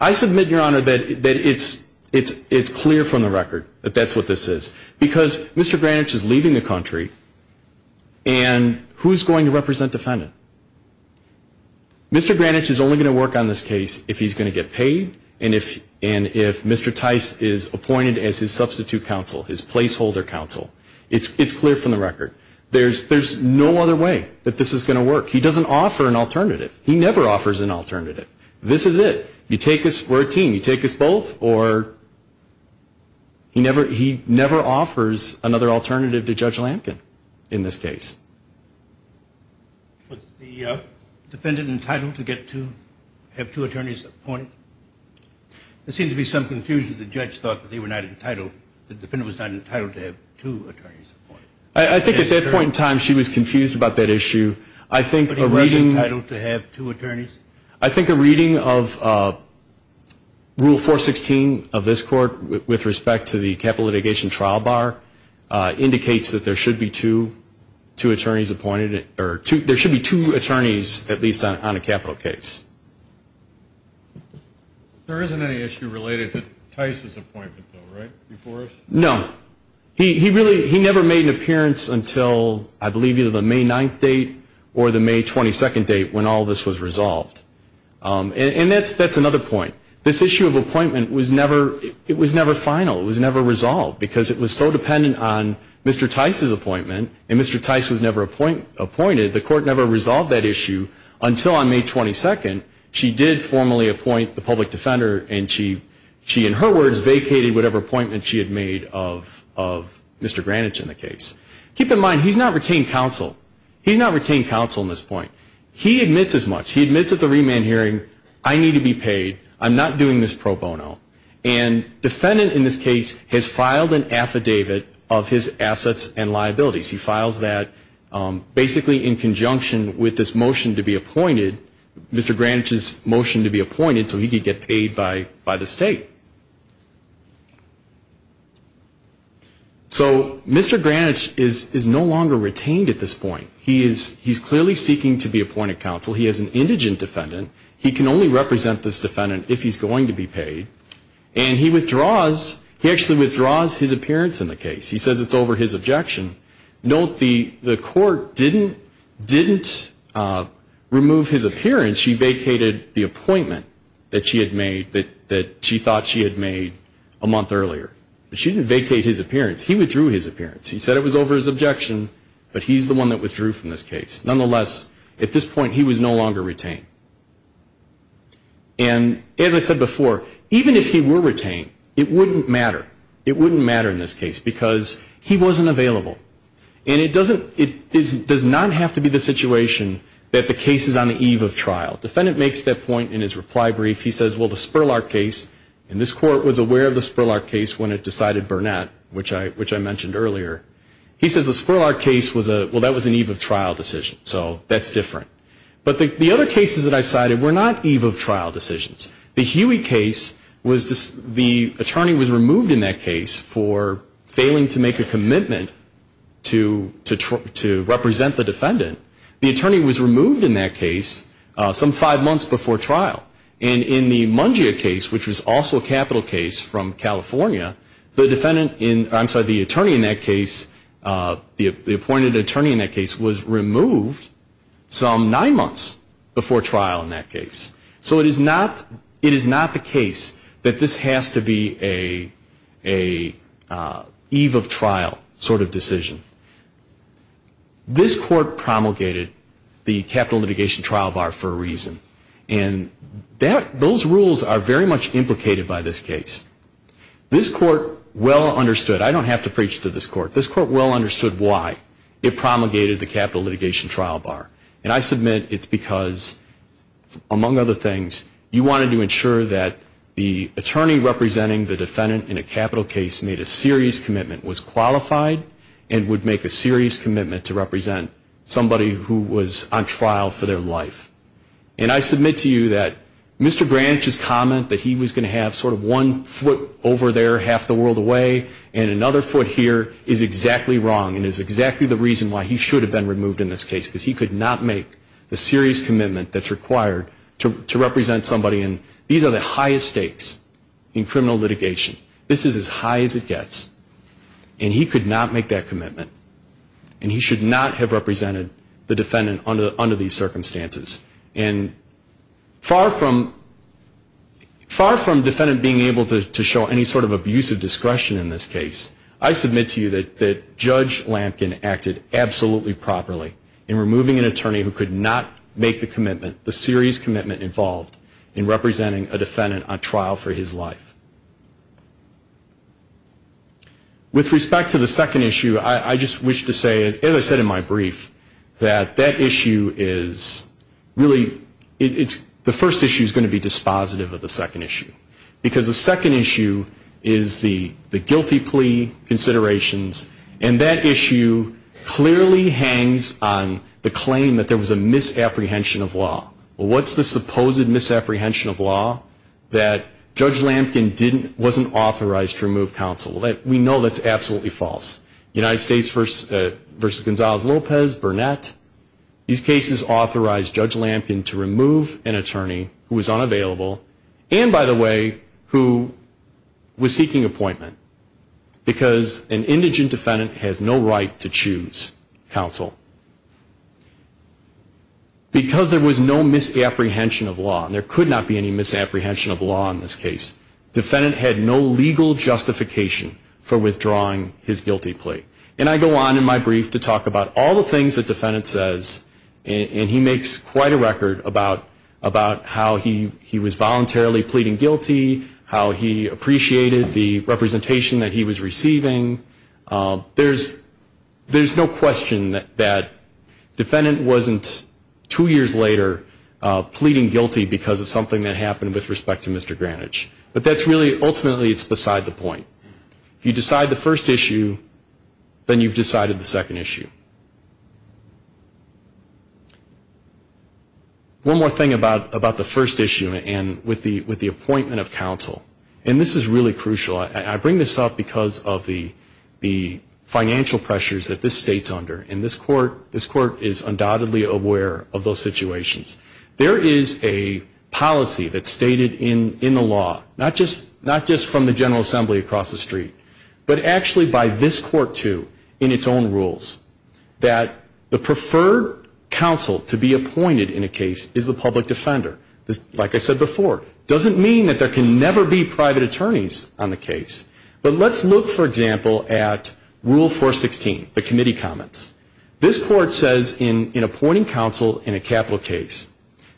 I submit, Your Honor, that it's, it's, it's clear from the record that that's what this is. Because Mr. Granich is leaving the country, and who's going to represent defendant? Mr. Granich is only going to work on this case if he's going to get paid, and if, and if Mr. Tice is appointed as his substitute counsel, his placeholder counsel. It's, it's clear from the record. There's, there's no other way that this is going to work. He doesn't offer an alternative. He never offers an alternative. This is it. You take us, we're a team, you take us both, or he never, he never offers another alternative to Judge Lampkin in this case. Was the defendant entitled to get two, have two attorneys appointed? There seemed to be some confusion. The judge thought that they were not entitled, the defendant was not entitled to have two attorneys appointed. I, I think at that point in time she was confused about that issue. I think a reading. Was the defendant entitled to have two attorneys? I think a reading of Rule 416 of this court with, with respect to the capital litigation trial bar indicates that there should be two, two attorneys appointed, or two, there should be two attorneys at least on, on a capital case. There isn't any issue related to Tice's appointment though, right, before us? No. He, he really, he never made an appearance until I believe either the May 9th date or the May 22nd date when all this was resolved. And, and that's, that's another point. This issue of appointment was never, it was never final. It was never resolved because it was so dependent on Mr. Tice's appointment and Mr. Tice was never appointed. The court never resolved that issue until on May 22nd she did formally appoint the public defender and she, she in her words vacated whatever appointment she had made of, of Mr. Granich in the case. Keep in mind he's not retained counsel. He's not retained counsel in this point. He admits as much. He admits at the remand hearing I need to be paid. I'm not doing this pro bono. And defendant in this case has filed an affidavit of his assets and liabilities. He files that basically in conjunction with this motion to be appointed, Mr. Granich's motion to be appointed so he could get paid by, by the state. So Mr. Granich is, is no longer retained at this point. He is, he's clearly seeking to be appointed counsel. He is an indigent defendant. He can only represent this defendant if he's going to be paid. And he withdraws, he actually withdraws his appearance in the case. He says it's over his objection. Note the, the court didn't, didn't remove his appearance. She vacated the appointment that she had made that, that she thought she had made a month earlier. But she didn't vacate his appearance. He withdrew his appearance. He said it was over his objection, but he's the one that withdrew from this case. Nonetheless, at this point he was no longer retained. And as I said before, even if he were retained, it wouldn't matter. It wouldn't matter in this case because he wasn't available. And it doesn't, it does not have to be the situation that the case is on the eve of trial. Defendant makes that point in his reply brief. He says, well, the Spurlark case, and this court was aware of the Spurlark case when it decided Burnett, which I, which I mentioned earlier. He says the Spurlark case was a, well, that was an eve of trial decision. So that's different. But the, the other cases that I cited were not eve of trial decisions. The Huey case was, the attorney was removed in that case for failing to make a commitment to, to represent the defendant. The attorney was removed in that case some five months before trial. And in the Mungia case, which was also a capital case from California, the defendant in, I'm sorry, the attorney in that case, the appointed attorney in that case, was removed some nine months before trial in that case. So it is not, it is not the case that this has to be a, a eve of trial sort of decision. This court promulgated the capital litigation trial bar for a reason. And that, those rules are very much implicated by this case. This court well understood, I don't have to preach to this court, this court well understood why it promulgated the capital litigation trial bar. And I submit it's because, among other things, you wanted to ensure that the attorney representing the defendant in a capital case made a serious commitment, was qualified, and would make a serious commitment to represent somebody who was on trial for their life. And I submit to you that Mr. Granich's comment that he was going to have sort of one foot over there half the world away and another foot here is exactly wrong and is exactly the reason why he should have been removed in this case because he could not make the serious commitment that's required to, to represent somebody and these are the highest stakes in criminal litigation. This is as high as it gets. And he could not make that commitment. And he should not have represented the defendant under, under these circumstances. And far from, far from defendant being able to, to show any sort of abusive discretion in this case, I submit to you that Judge Lampkin acted absolutely properly in removing an attorney who could not make the commitment, the serious commitment involved in representing a defendant on trial for his life. With respect to the second issue, I just wish to say, as I said in my brief, that that issue is really, it's, the first issue is going to be dispositive of the second issue. Because the second issue is the, the guilty plea considerations. And that issue clearly hangs on the claim that there was a misapprehension of law. What's the supposed misapprehension of law? That Judge Lampkin didn't, wasn't authorized to remove counsel. We know that's absolutely false. United States versus, versus Gonzalez-Lopez, Burnett. These cases authorized Judge Lampkin to remove an attorney who was unavailable. And, by the way, who was seeking appointment. Because an indigent defendant has no right to choose counsel. Because there was no misapprehension of law, and there could not be any misapprehension of law in this case, defendant had no legal justification for withdrawing his guilty plea. And I go on in my brief to talk about all the things that defendant says, and he makes quite a record about, about how he, he was voluntarily pleading guilty. How he appreciated the representation that he was receiving. There's, there's no question that, that defendant wasn't two years later pleading guilty because of something that happened with respect to Mr. Granich. But that's really, ultimately it's beside the point. If you decide the first issue, then you've decided the second issue. One more thing about, about the first issue, and with the, with the appointment of counsel. And this is really crucial. I, I bring this up because of the, the financial pressures that this state's under. And this court, this court is undoubtedly aware of those situations. There is a policy that's stated in, in the law, not just, not just from the General Assembly across the street, but actually by this court, too, in its own rules. That the preferred counsel to be appointed in a case is the public defender. This, like I said before, doesn't mean that there can never be private attorneys on the case. But let's look, for example, at Rule 416, the committee comments. This court says in, in appointing counsel in a capital case,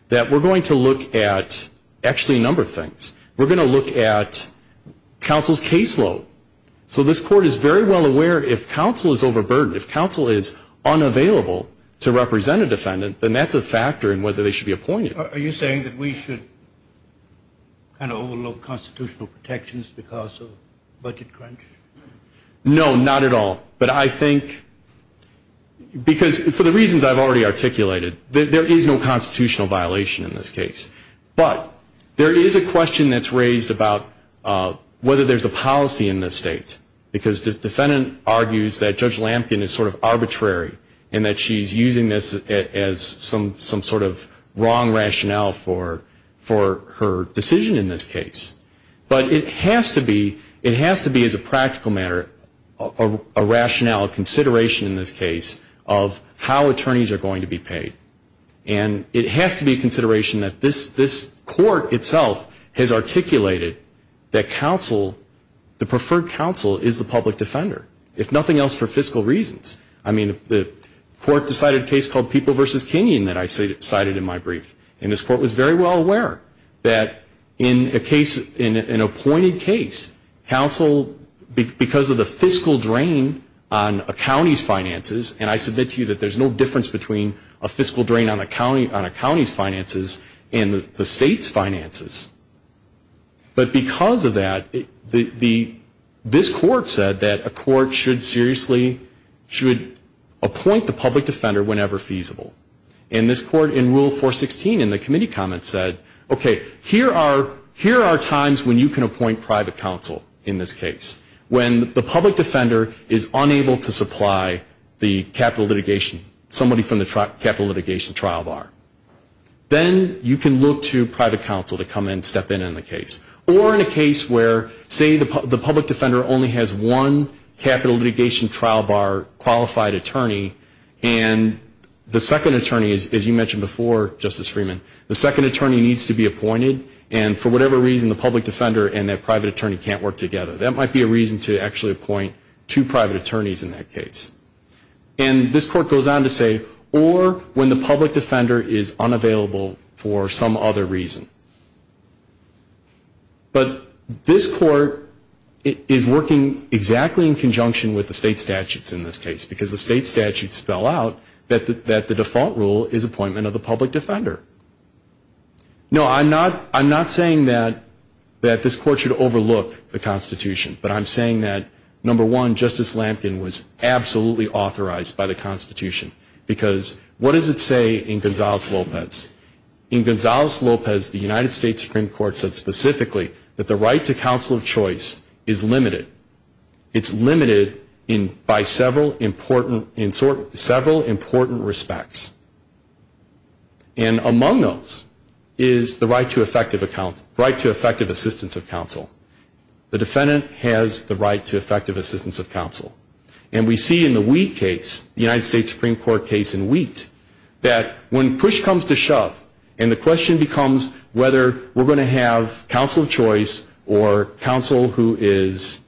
that we're going to look at actually a number of things. We're going to look at counsel's caseload. So this court is very well aware if counsel is overburdened, if counsel is unavailable to represent a defendant, then that's a factor in whether they should be appointed. Are you saying that we should kind of overlook constitutional protections because of budget crunch? No, not at all. But I think, because for the reasons I've already articulated, there, there is no constitutional violation in this case. But there is a question that's raised about whether there's a policy in this state. Because the defendant argues that Judge Lamkin is sort of arbitrary, and that she's using this as some, some sort of wrong rationale for, for her decision in this case. But it has to be, it has to be as a practical matter, a rationale, a consideration in this case, of how attorneys are going to be paid. And it has to be a consideration that this, this court itself has articulated that counsel, the preferred counsel is the public defender, if nothing else, for fiscal reasons. I mean, the court decided a case called People v. Kenyon that I cited in my brief. And this court was very well aware that in a case, in an appointed case, counsel, because of the fiscal drain on a county's finances, and I submit to you that there's no difference between a fiscal drain on a county, on a county's finances and the state's finances. But because of that, the, the, this court said that a court should seriously, should appoint the public defender whenever feasible. And this court in Rule 416 in the committee comments said, okay, here are, here are times when you can appoint private counsel in this case. When the public defender is unable to supply the capital litigation, somebody from the capital litigation trial bar. Then you can look to private counsel to come in and step in on the case. Or in a case where, say, the public defender only has one capital litigation trial bar qualified attorney, and the second attorney is, as you mentioned before, Justice Freeman, the second attorney needs to be appointed, and for whatever reason, the public defender and that private attorney can't work together. That might be a reason to actually appoint two private attorneys in that case. And this court goes on to say, or when the public defender is unavailable for some other reason. But this court is working exactly in conjunction with the state statutes in this case, because the state statutes spell out that the default rule is appointment of the public defender. No, I'm not, I'm not saying that, that this court should overlook the Constitution. But I'm saying that, number one, Justice Lampkin was absolutely authorized by the Constitution. Because what does it say in Gonzales-Lopez? In Gonzales-Lopez, the United States Supreme Court said specifically that the right to counsel of choice is limited. It's limited in, by several important, in several important respects. And among those is the right to effective assistance of counsel. The defendant has the right to effective assistance of counsel. And we see in the Wheat case, the United States Supreme Court case in Wheat, that when push comes to shove, and the question becomes whether we're going to have counsel of choice or counsel who is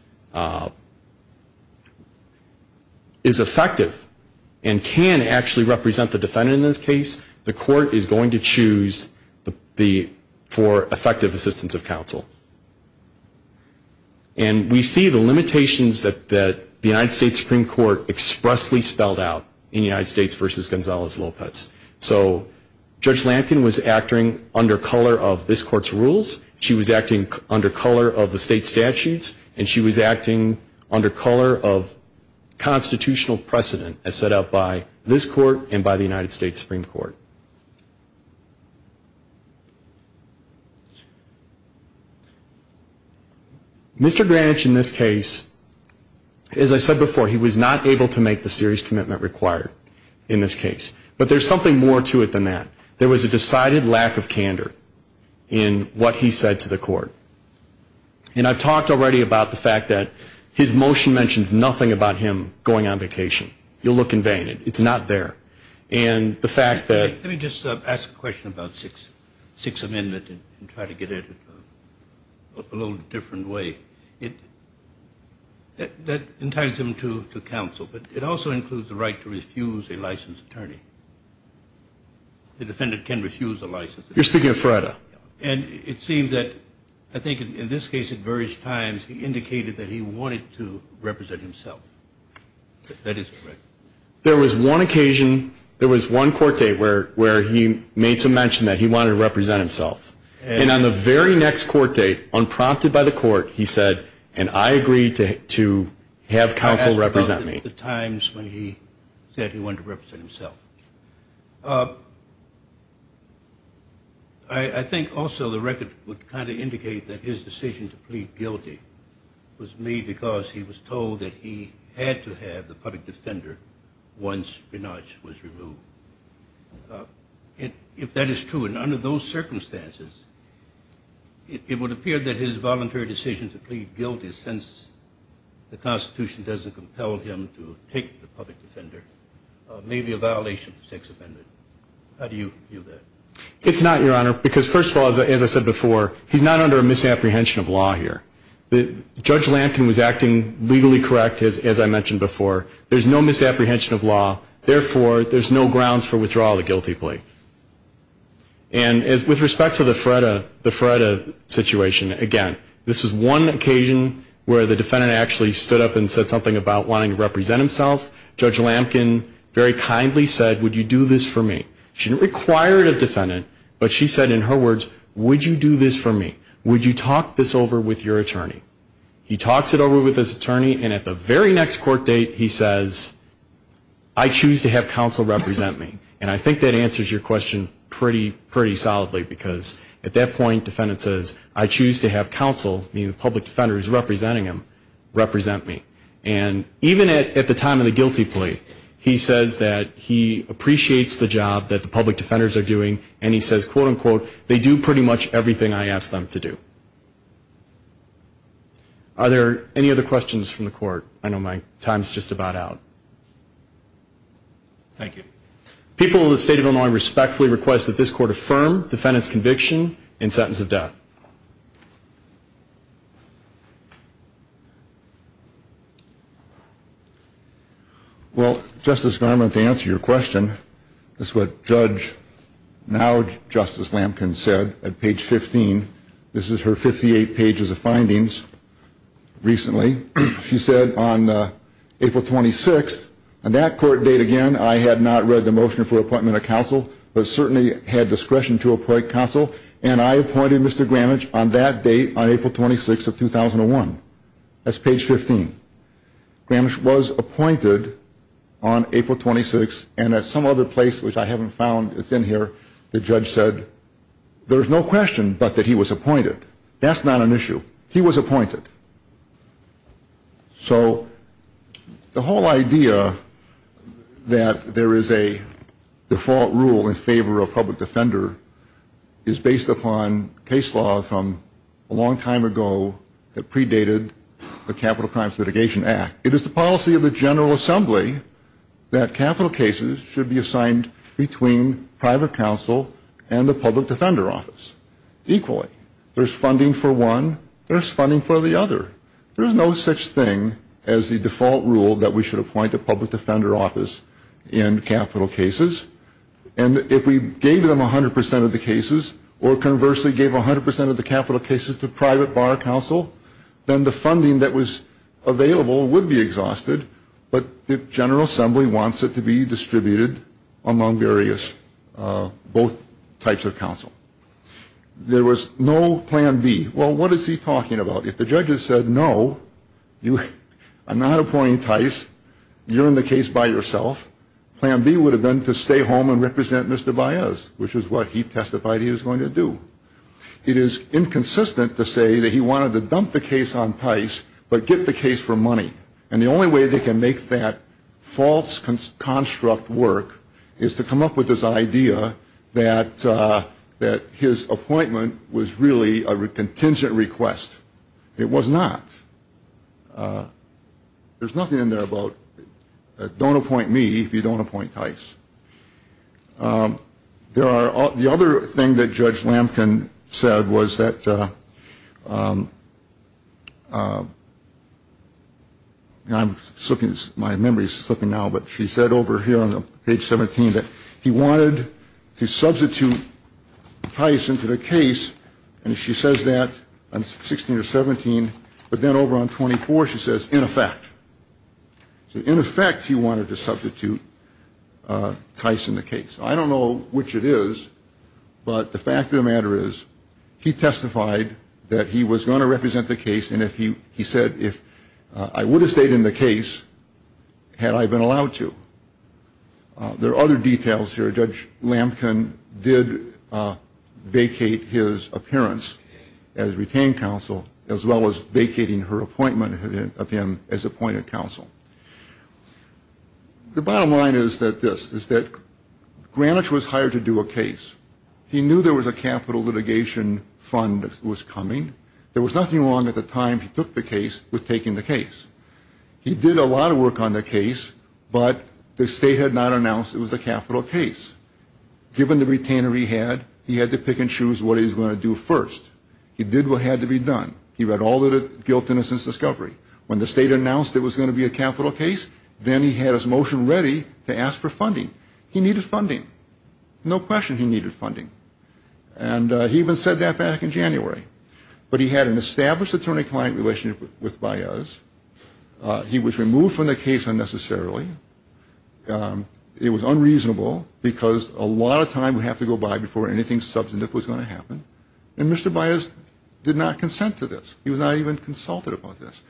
effective and can actually represent the defendant in this case, the court is going to choose for effective assistance of counsel. And we see the limitations that the United States Supreme Court expressly spelled out in United States v. Gonzales-Lopez. So Judge Lampkin was acting under color of this court's rules. She was acting under color of the state statutes. And she was acting under color of constitutional precedent as set out by this court and by the United States Supreme Court. Mr. Granich in this case, as I said before, he was not able to make the serious commitment required in this case. But there's something more to it than that. There was a decided lack of candor in what he said to the court. And I've talked already about the fact that his motion mentions nothing about him going on vacation. You'll look in vain. It's not there. And the fact that ‑‑ Let me just ask a question about Sixth Amendment and try to get it a little different way. That entitles him to counsel. But it also includes the right to refuse a licensed attorney. The defendant can refuse a license. You're speaking of Freda. And it seems that I think in this case at various times he indicated that he wanted to represent himself. If that is correct. There was one occasion, there was one court date where he made some mention that he wanted to represent himself. And on the very next court date, unprompted by the court, he said, and I agreed to have counsel represent me. I'll ask about the times when he said he wanted to represent himself. I think also the record would kind of indicate that his decision to plead guilty was made because he was told that he had to have the public defender once Granich was removed. If that is true, and under those circumstances, it would appear that his voluntary decision to plead guilty, since the Constitution doesn't compel him to take the public defender, may be a violation of the Sixth Amendment. How do you view that? It's not, Your Honor, because first of all, as I said before, he's not under a misapprehension of law here. Judge Lampkin was acting legally correct, as I mentioned before. There's no misapprehension of law. Therefore, there's no grounds for withdrawal of the guilty plea. And with respect to the Fredda situation, again, this was one occasion where the defendant actually stood up and said something about wanting to represent himself. Judge Lampkin very kindly said, would you do this for me? She didn't require it of the defendant, but she said in her words, would you do this for me? Would you talk this over with your attorney? He talks it over with his attorney, and at the very next court date, he says, I choose to have counsel represent me. And I think that answers your question pretty solidly, because at that point, the defendant says, I choose to have counsel, meaning the public defender who's representing him, represent me. And even at the time of the guilty plea, he says that he appreciates the job that the public defenders are doing, and he says, quote, unquote, they do pretty much everything I ask them to do. Are there any other questions from the court? I know my time's just about out. Thank you. People in the state of Illinois respectfully request that this court affirm defendant's conviction and sentence of death. Well, Justice Garment, to answer your question, this is what Judge, now Justice Lampkin, said at page 15. This is her 58 pages of findings recently. She said on April 26th, on that court date again, I had not read the motion for appointment of counsel, but certainly had discretion to appoint counsel. And I appointed Mr. Gramish on that date, on April 26th of 2001. That's page 15. Gramish was appointed on April 26th, and at some other place, which I haven't found that's in here, the judge said, there's no question but that he was appointed. That's not an issue. He was appointed. So the whole idea that there is a default rule in favor of public defender is based upon case law from a long time ago that predated the Capital Crimes Litigation Act. It is the policy of the General Assembly that capital cases should be assigned between private counsel and the public defender office equally. There's funding for one. There's funding for the other. There is no such thing as the default rule that we should appoint a public defender office in capital cases. And if we gave them 100% of the cases, or conversely gave 100% of the capital cases to private bar counsel, then the funding that was available would be exhausted, but the General Assembly wants it to be distributed among both types of counsel. There was no plan B. Well, what is he talking about? If the judges said, no, I'm not appointing Tice, you're in the case by yourself, plan B would have been to stay home and represent Mr. Baez, which is what he testified he was going to do. It is inconsistent to say that he wanted to dump the case on Tice but get the case for money. And the only way they can make that false construct work is to come up with this idea that his appointment was really a contingent request. It was not. There's nothing in there about, don't appoint me if you don't appoint Tice. The other thing that Judge Lamkin said was that, I'm slipping, my memory is slipping now, but she said over here on page 17 that he wanted to substitute Tice into the case, and she says that on 16 or 17, but then over on 24 she says, in effect. So, in effect, he wanted to substitute Tice in the case. I don't know which it is, but the fact of the matter is, he testified that he was going to represent the case, and he said if I would have stayed in the case had I been allowed to. There are other details here. Judge Lamkin did vacate his appearance as retained counsel, as well as vacating her appointment of him as appointed counsel. The bottom line is that this, is that Granich was hired to do a case. He knew there was a capital litigation fund that was coming. There was nothing wrong at the time he took the case with taking the case. He did a lot of work on the case, but the state had not announced it was a capital case. Given the retainer he had, he had to pick and choose what he was going to do first. He did what had to be done. He read all of the guilt, innocence, discovery. When the state announced it was going to be a capital case, then he had his motion ready to ask for funding. He needed funding. No question he needed funding. And he even said that back in January. But he had an established attorney-client relationship with Baez. He was removed from the case unnecessarily. It was unreasonable because a lot of time would have to go by before anything substantive was going to happen. And Mr. Baez did not consent to this. He was not even consulted about this.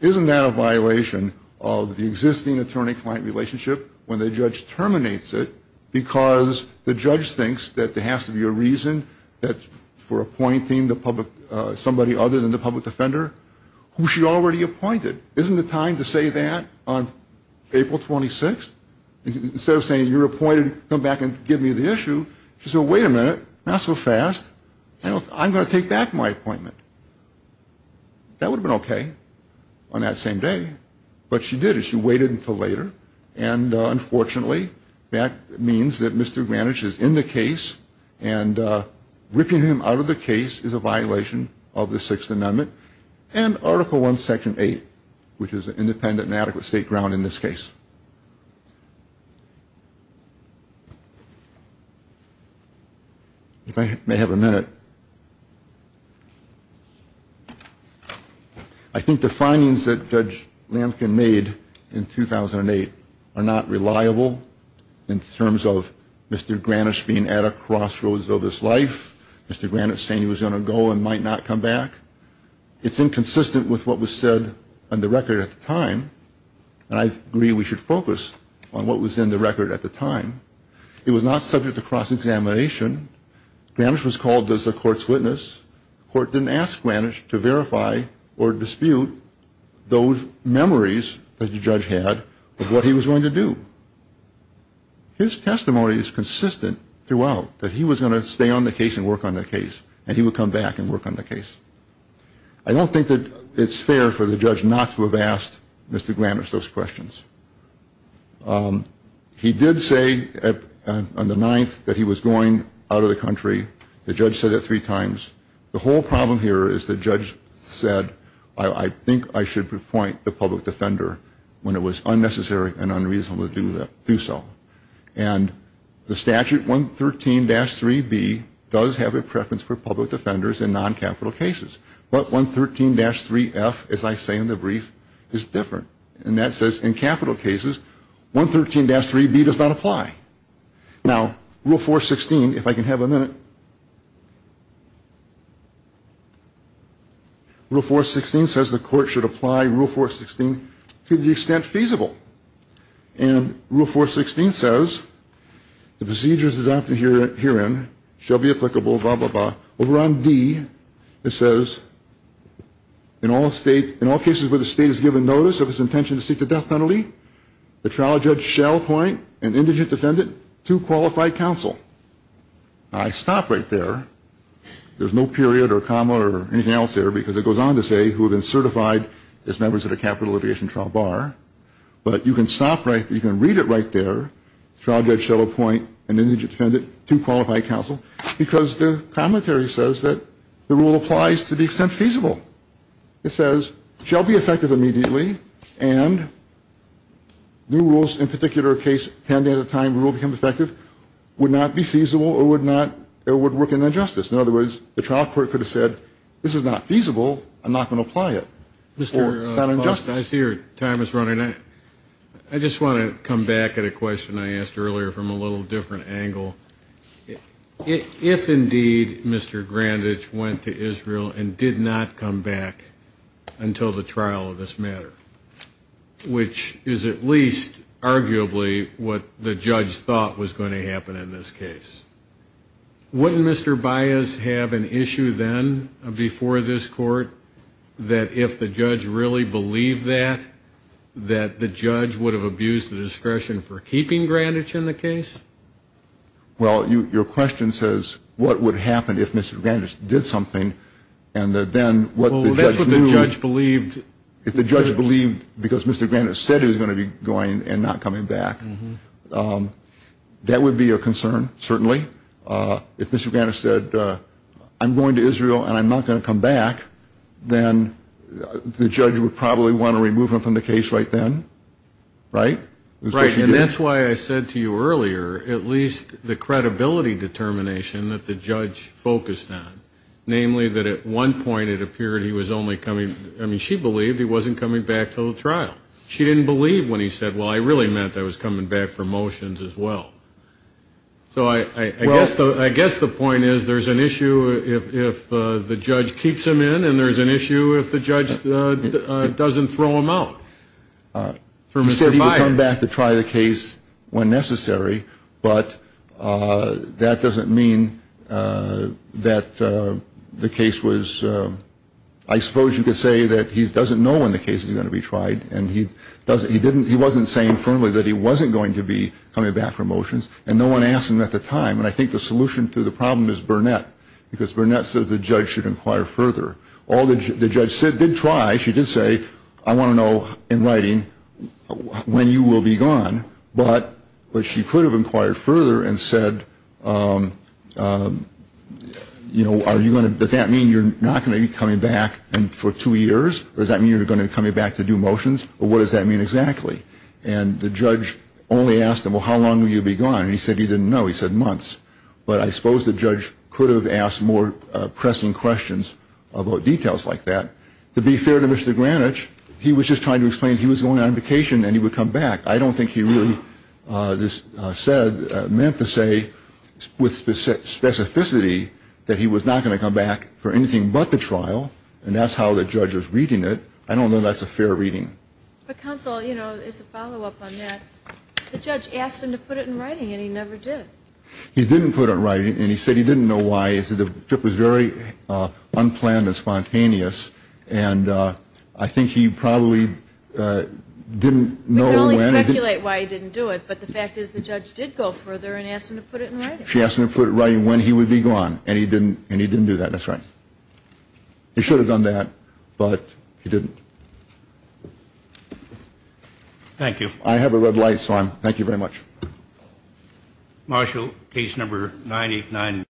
Isn't that a violation of the existing attorney-client relationship when the judge terminates it because the judge thinks that there has to be a reason for appointing somebody other than the public defender who she already appointed? Isn't it time to say that on April 26th? Instead of saying you're appointed, come back and give me the issue. She said, wait a minute, not so fast. I'm going to take back my appointment. That would have been okay on that same day, but she did it. She waited until later. And, unfortunately, that means that Mr. Granich is in the case and ripping him out of the case is a violation of the Sixth Amendment and Article I, Section 8, which is an independent and adequate state ground in this case. If I may have a minute. I think the findings that Judge Lampkin made in 2008 are not reliable in terms of Mr. Granich being at a crossroads of his life, Mr. Granich saying he was going to go and might not come back. It's inconsistent with what was said on the record at the time, and I agree we should focus on what was in the record at the time. It was not subject to cross-examination. Granich was called as the court's witness. The court didn't ask Granich to verify or dispute those memories that the judge had of what he was going to do. His testimony is consistent throughout that he was going to stay on the case and work on the case, and he would come back and work on the case. I don't think that it's fair for the judge not to have asked Mr. Granich those questions. He did say on the 9th that he was going out of the country. The judge said that three times. The whole problem here is the judge said, I think I should report the public defender when it was unnecessary and unreasonable to do so. And the statute 113-3B does have a preference for public defenders in non-capital cases, but 113-3F, as I say in the brief, is different. And that says in capital cases, 113-3B does not apply. Now, Rule 416, if I can have a minute. Rule 416 says the court should apply Rule 416 to the extent feasible. And Rule 416 says the procedures adopted herein shall be applicable, blah, blah, blah. Now, over on D, it says in all cases where the state has given notice of its intention to seek the death penalty, the trial judge shall appoint an indigent defendant to qualified counsel. Now, I stop right there. There's no period or comma or anything else there, because it goes on to say who have been certified as members of the capital litigation trial bar. But you can stop right there, you can read it right there, trial judge shall appoint an indigent defendant to qualified counsel, because the commentary says that the rule applies to the extent feasible. It says shall be effective immediately, and new rules in particular case pending at the time the rule becomes effective would not be feasible or would work in injustice. In other words, the trial court could have said, this is not feasible, I'm not going to apply it. Or not in justice. I see your time is running out. I just want to come back at a question I asked earlier from a little different angle. If indeed Mr. Grandich went to Israel and did not come back until the trial of this matter, which is at least arguably what the judge thought was going to happen in this case, wouldn't Mr. Baez have an issue then before this court that if the judge really believed that, that the judge would have abused the discretion for keeping Grandich in the case? Well, your question says what would happen if Mr. Grandich did something and then what the judge knew. Well, that's what the judge believed. If the judge believed because Mr. Grandich said he was going to be going and not coming back, that would be a concern, certainly. If Mr. Grandich said, I'm going to Israel and I'm not going to come back, then the judge would probably want to remove him from the case right then, right? Right. And that's why I said to you earlier at least the credibility determination that the judge focused on, namely that at one point it appeared he was only coming, I mean she believed he wasn't coming back until the trial. She didn't believe when he said, well, I really meant I was coming back for motions as well. So I guess the point is there's an issue if the judge keeps him in and there's an issue if the judge doesn't throw him out. He said he would come back to try the case when necessary, but that doesn't mean that the case was, I suppose you could say that he doesn't know when the case is going to be tried and he wasn't saying firmly that he wasn't going to be coming back for motions and no one asked him at the time and I think the solution to the problem is Burnett because Burnett says the judge should inquire further. The judge did try, she did say, I want to know in writing when you will be gone, but she could have inquired further and said, you know, does that mean you're not going to be coming back for two years? Does that mean you're going to be coming back to do motions? What does that mean exactly? And the judge only asked him, well, how long will you be gone? He said he didn't know. He said months. But I suppose the judge could have asked more pressing questions about details like that. To be fair to Mr. Granich, he was just trying to explain he was going on vacation and he would come back. I don't think he really meant to say with specificity that he was not going to come back for anything but the trial and that's how the judge was reading it. I don't know that's a fair reading. But counsel, you know, as a follow-up on that, the judge asked him to put it in writing and he never did. He didn't put it in writing and he said he didn't know why. He said the trip was very unplanned and spontaneous and I think he probably didn't know when. We can only speculate why he didn't do it, but the fact is the judge did go further and ask him to put it in writing. She asked him to put it in writing when he would be gone and he didn't do that. That's right. He should have done that, but he didn't. Thank you. I have a red light, so thank you very much. Marshall, case number 989.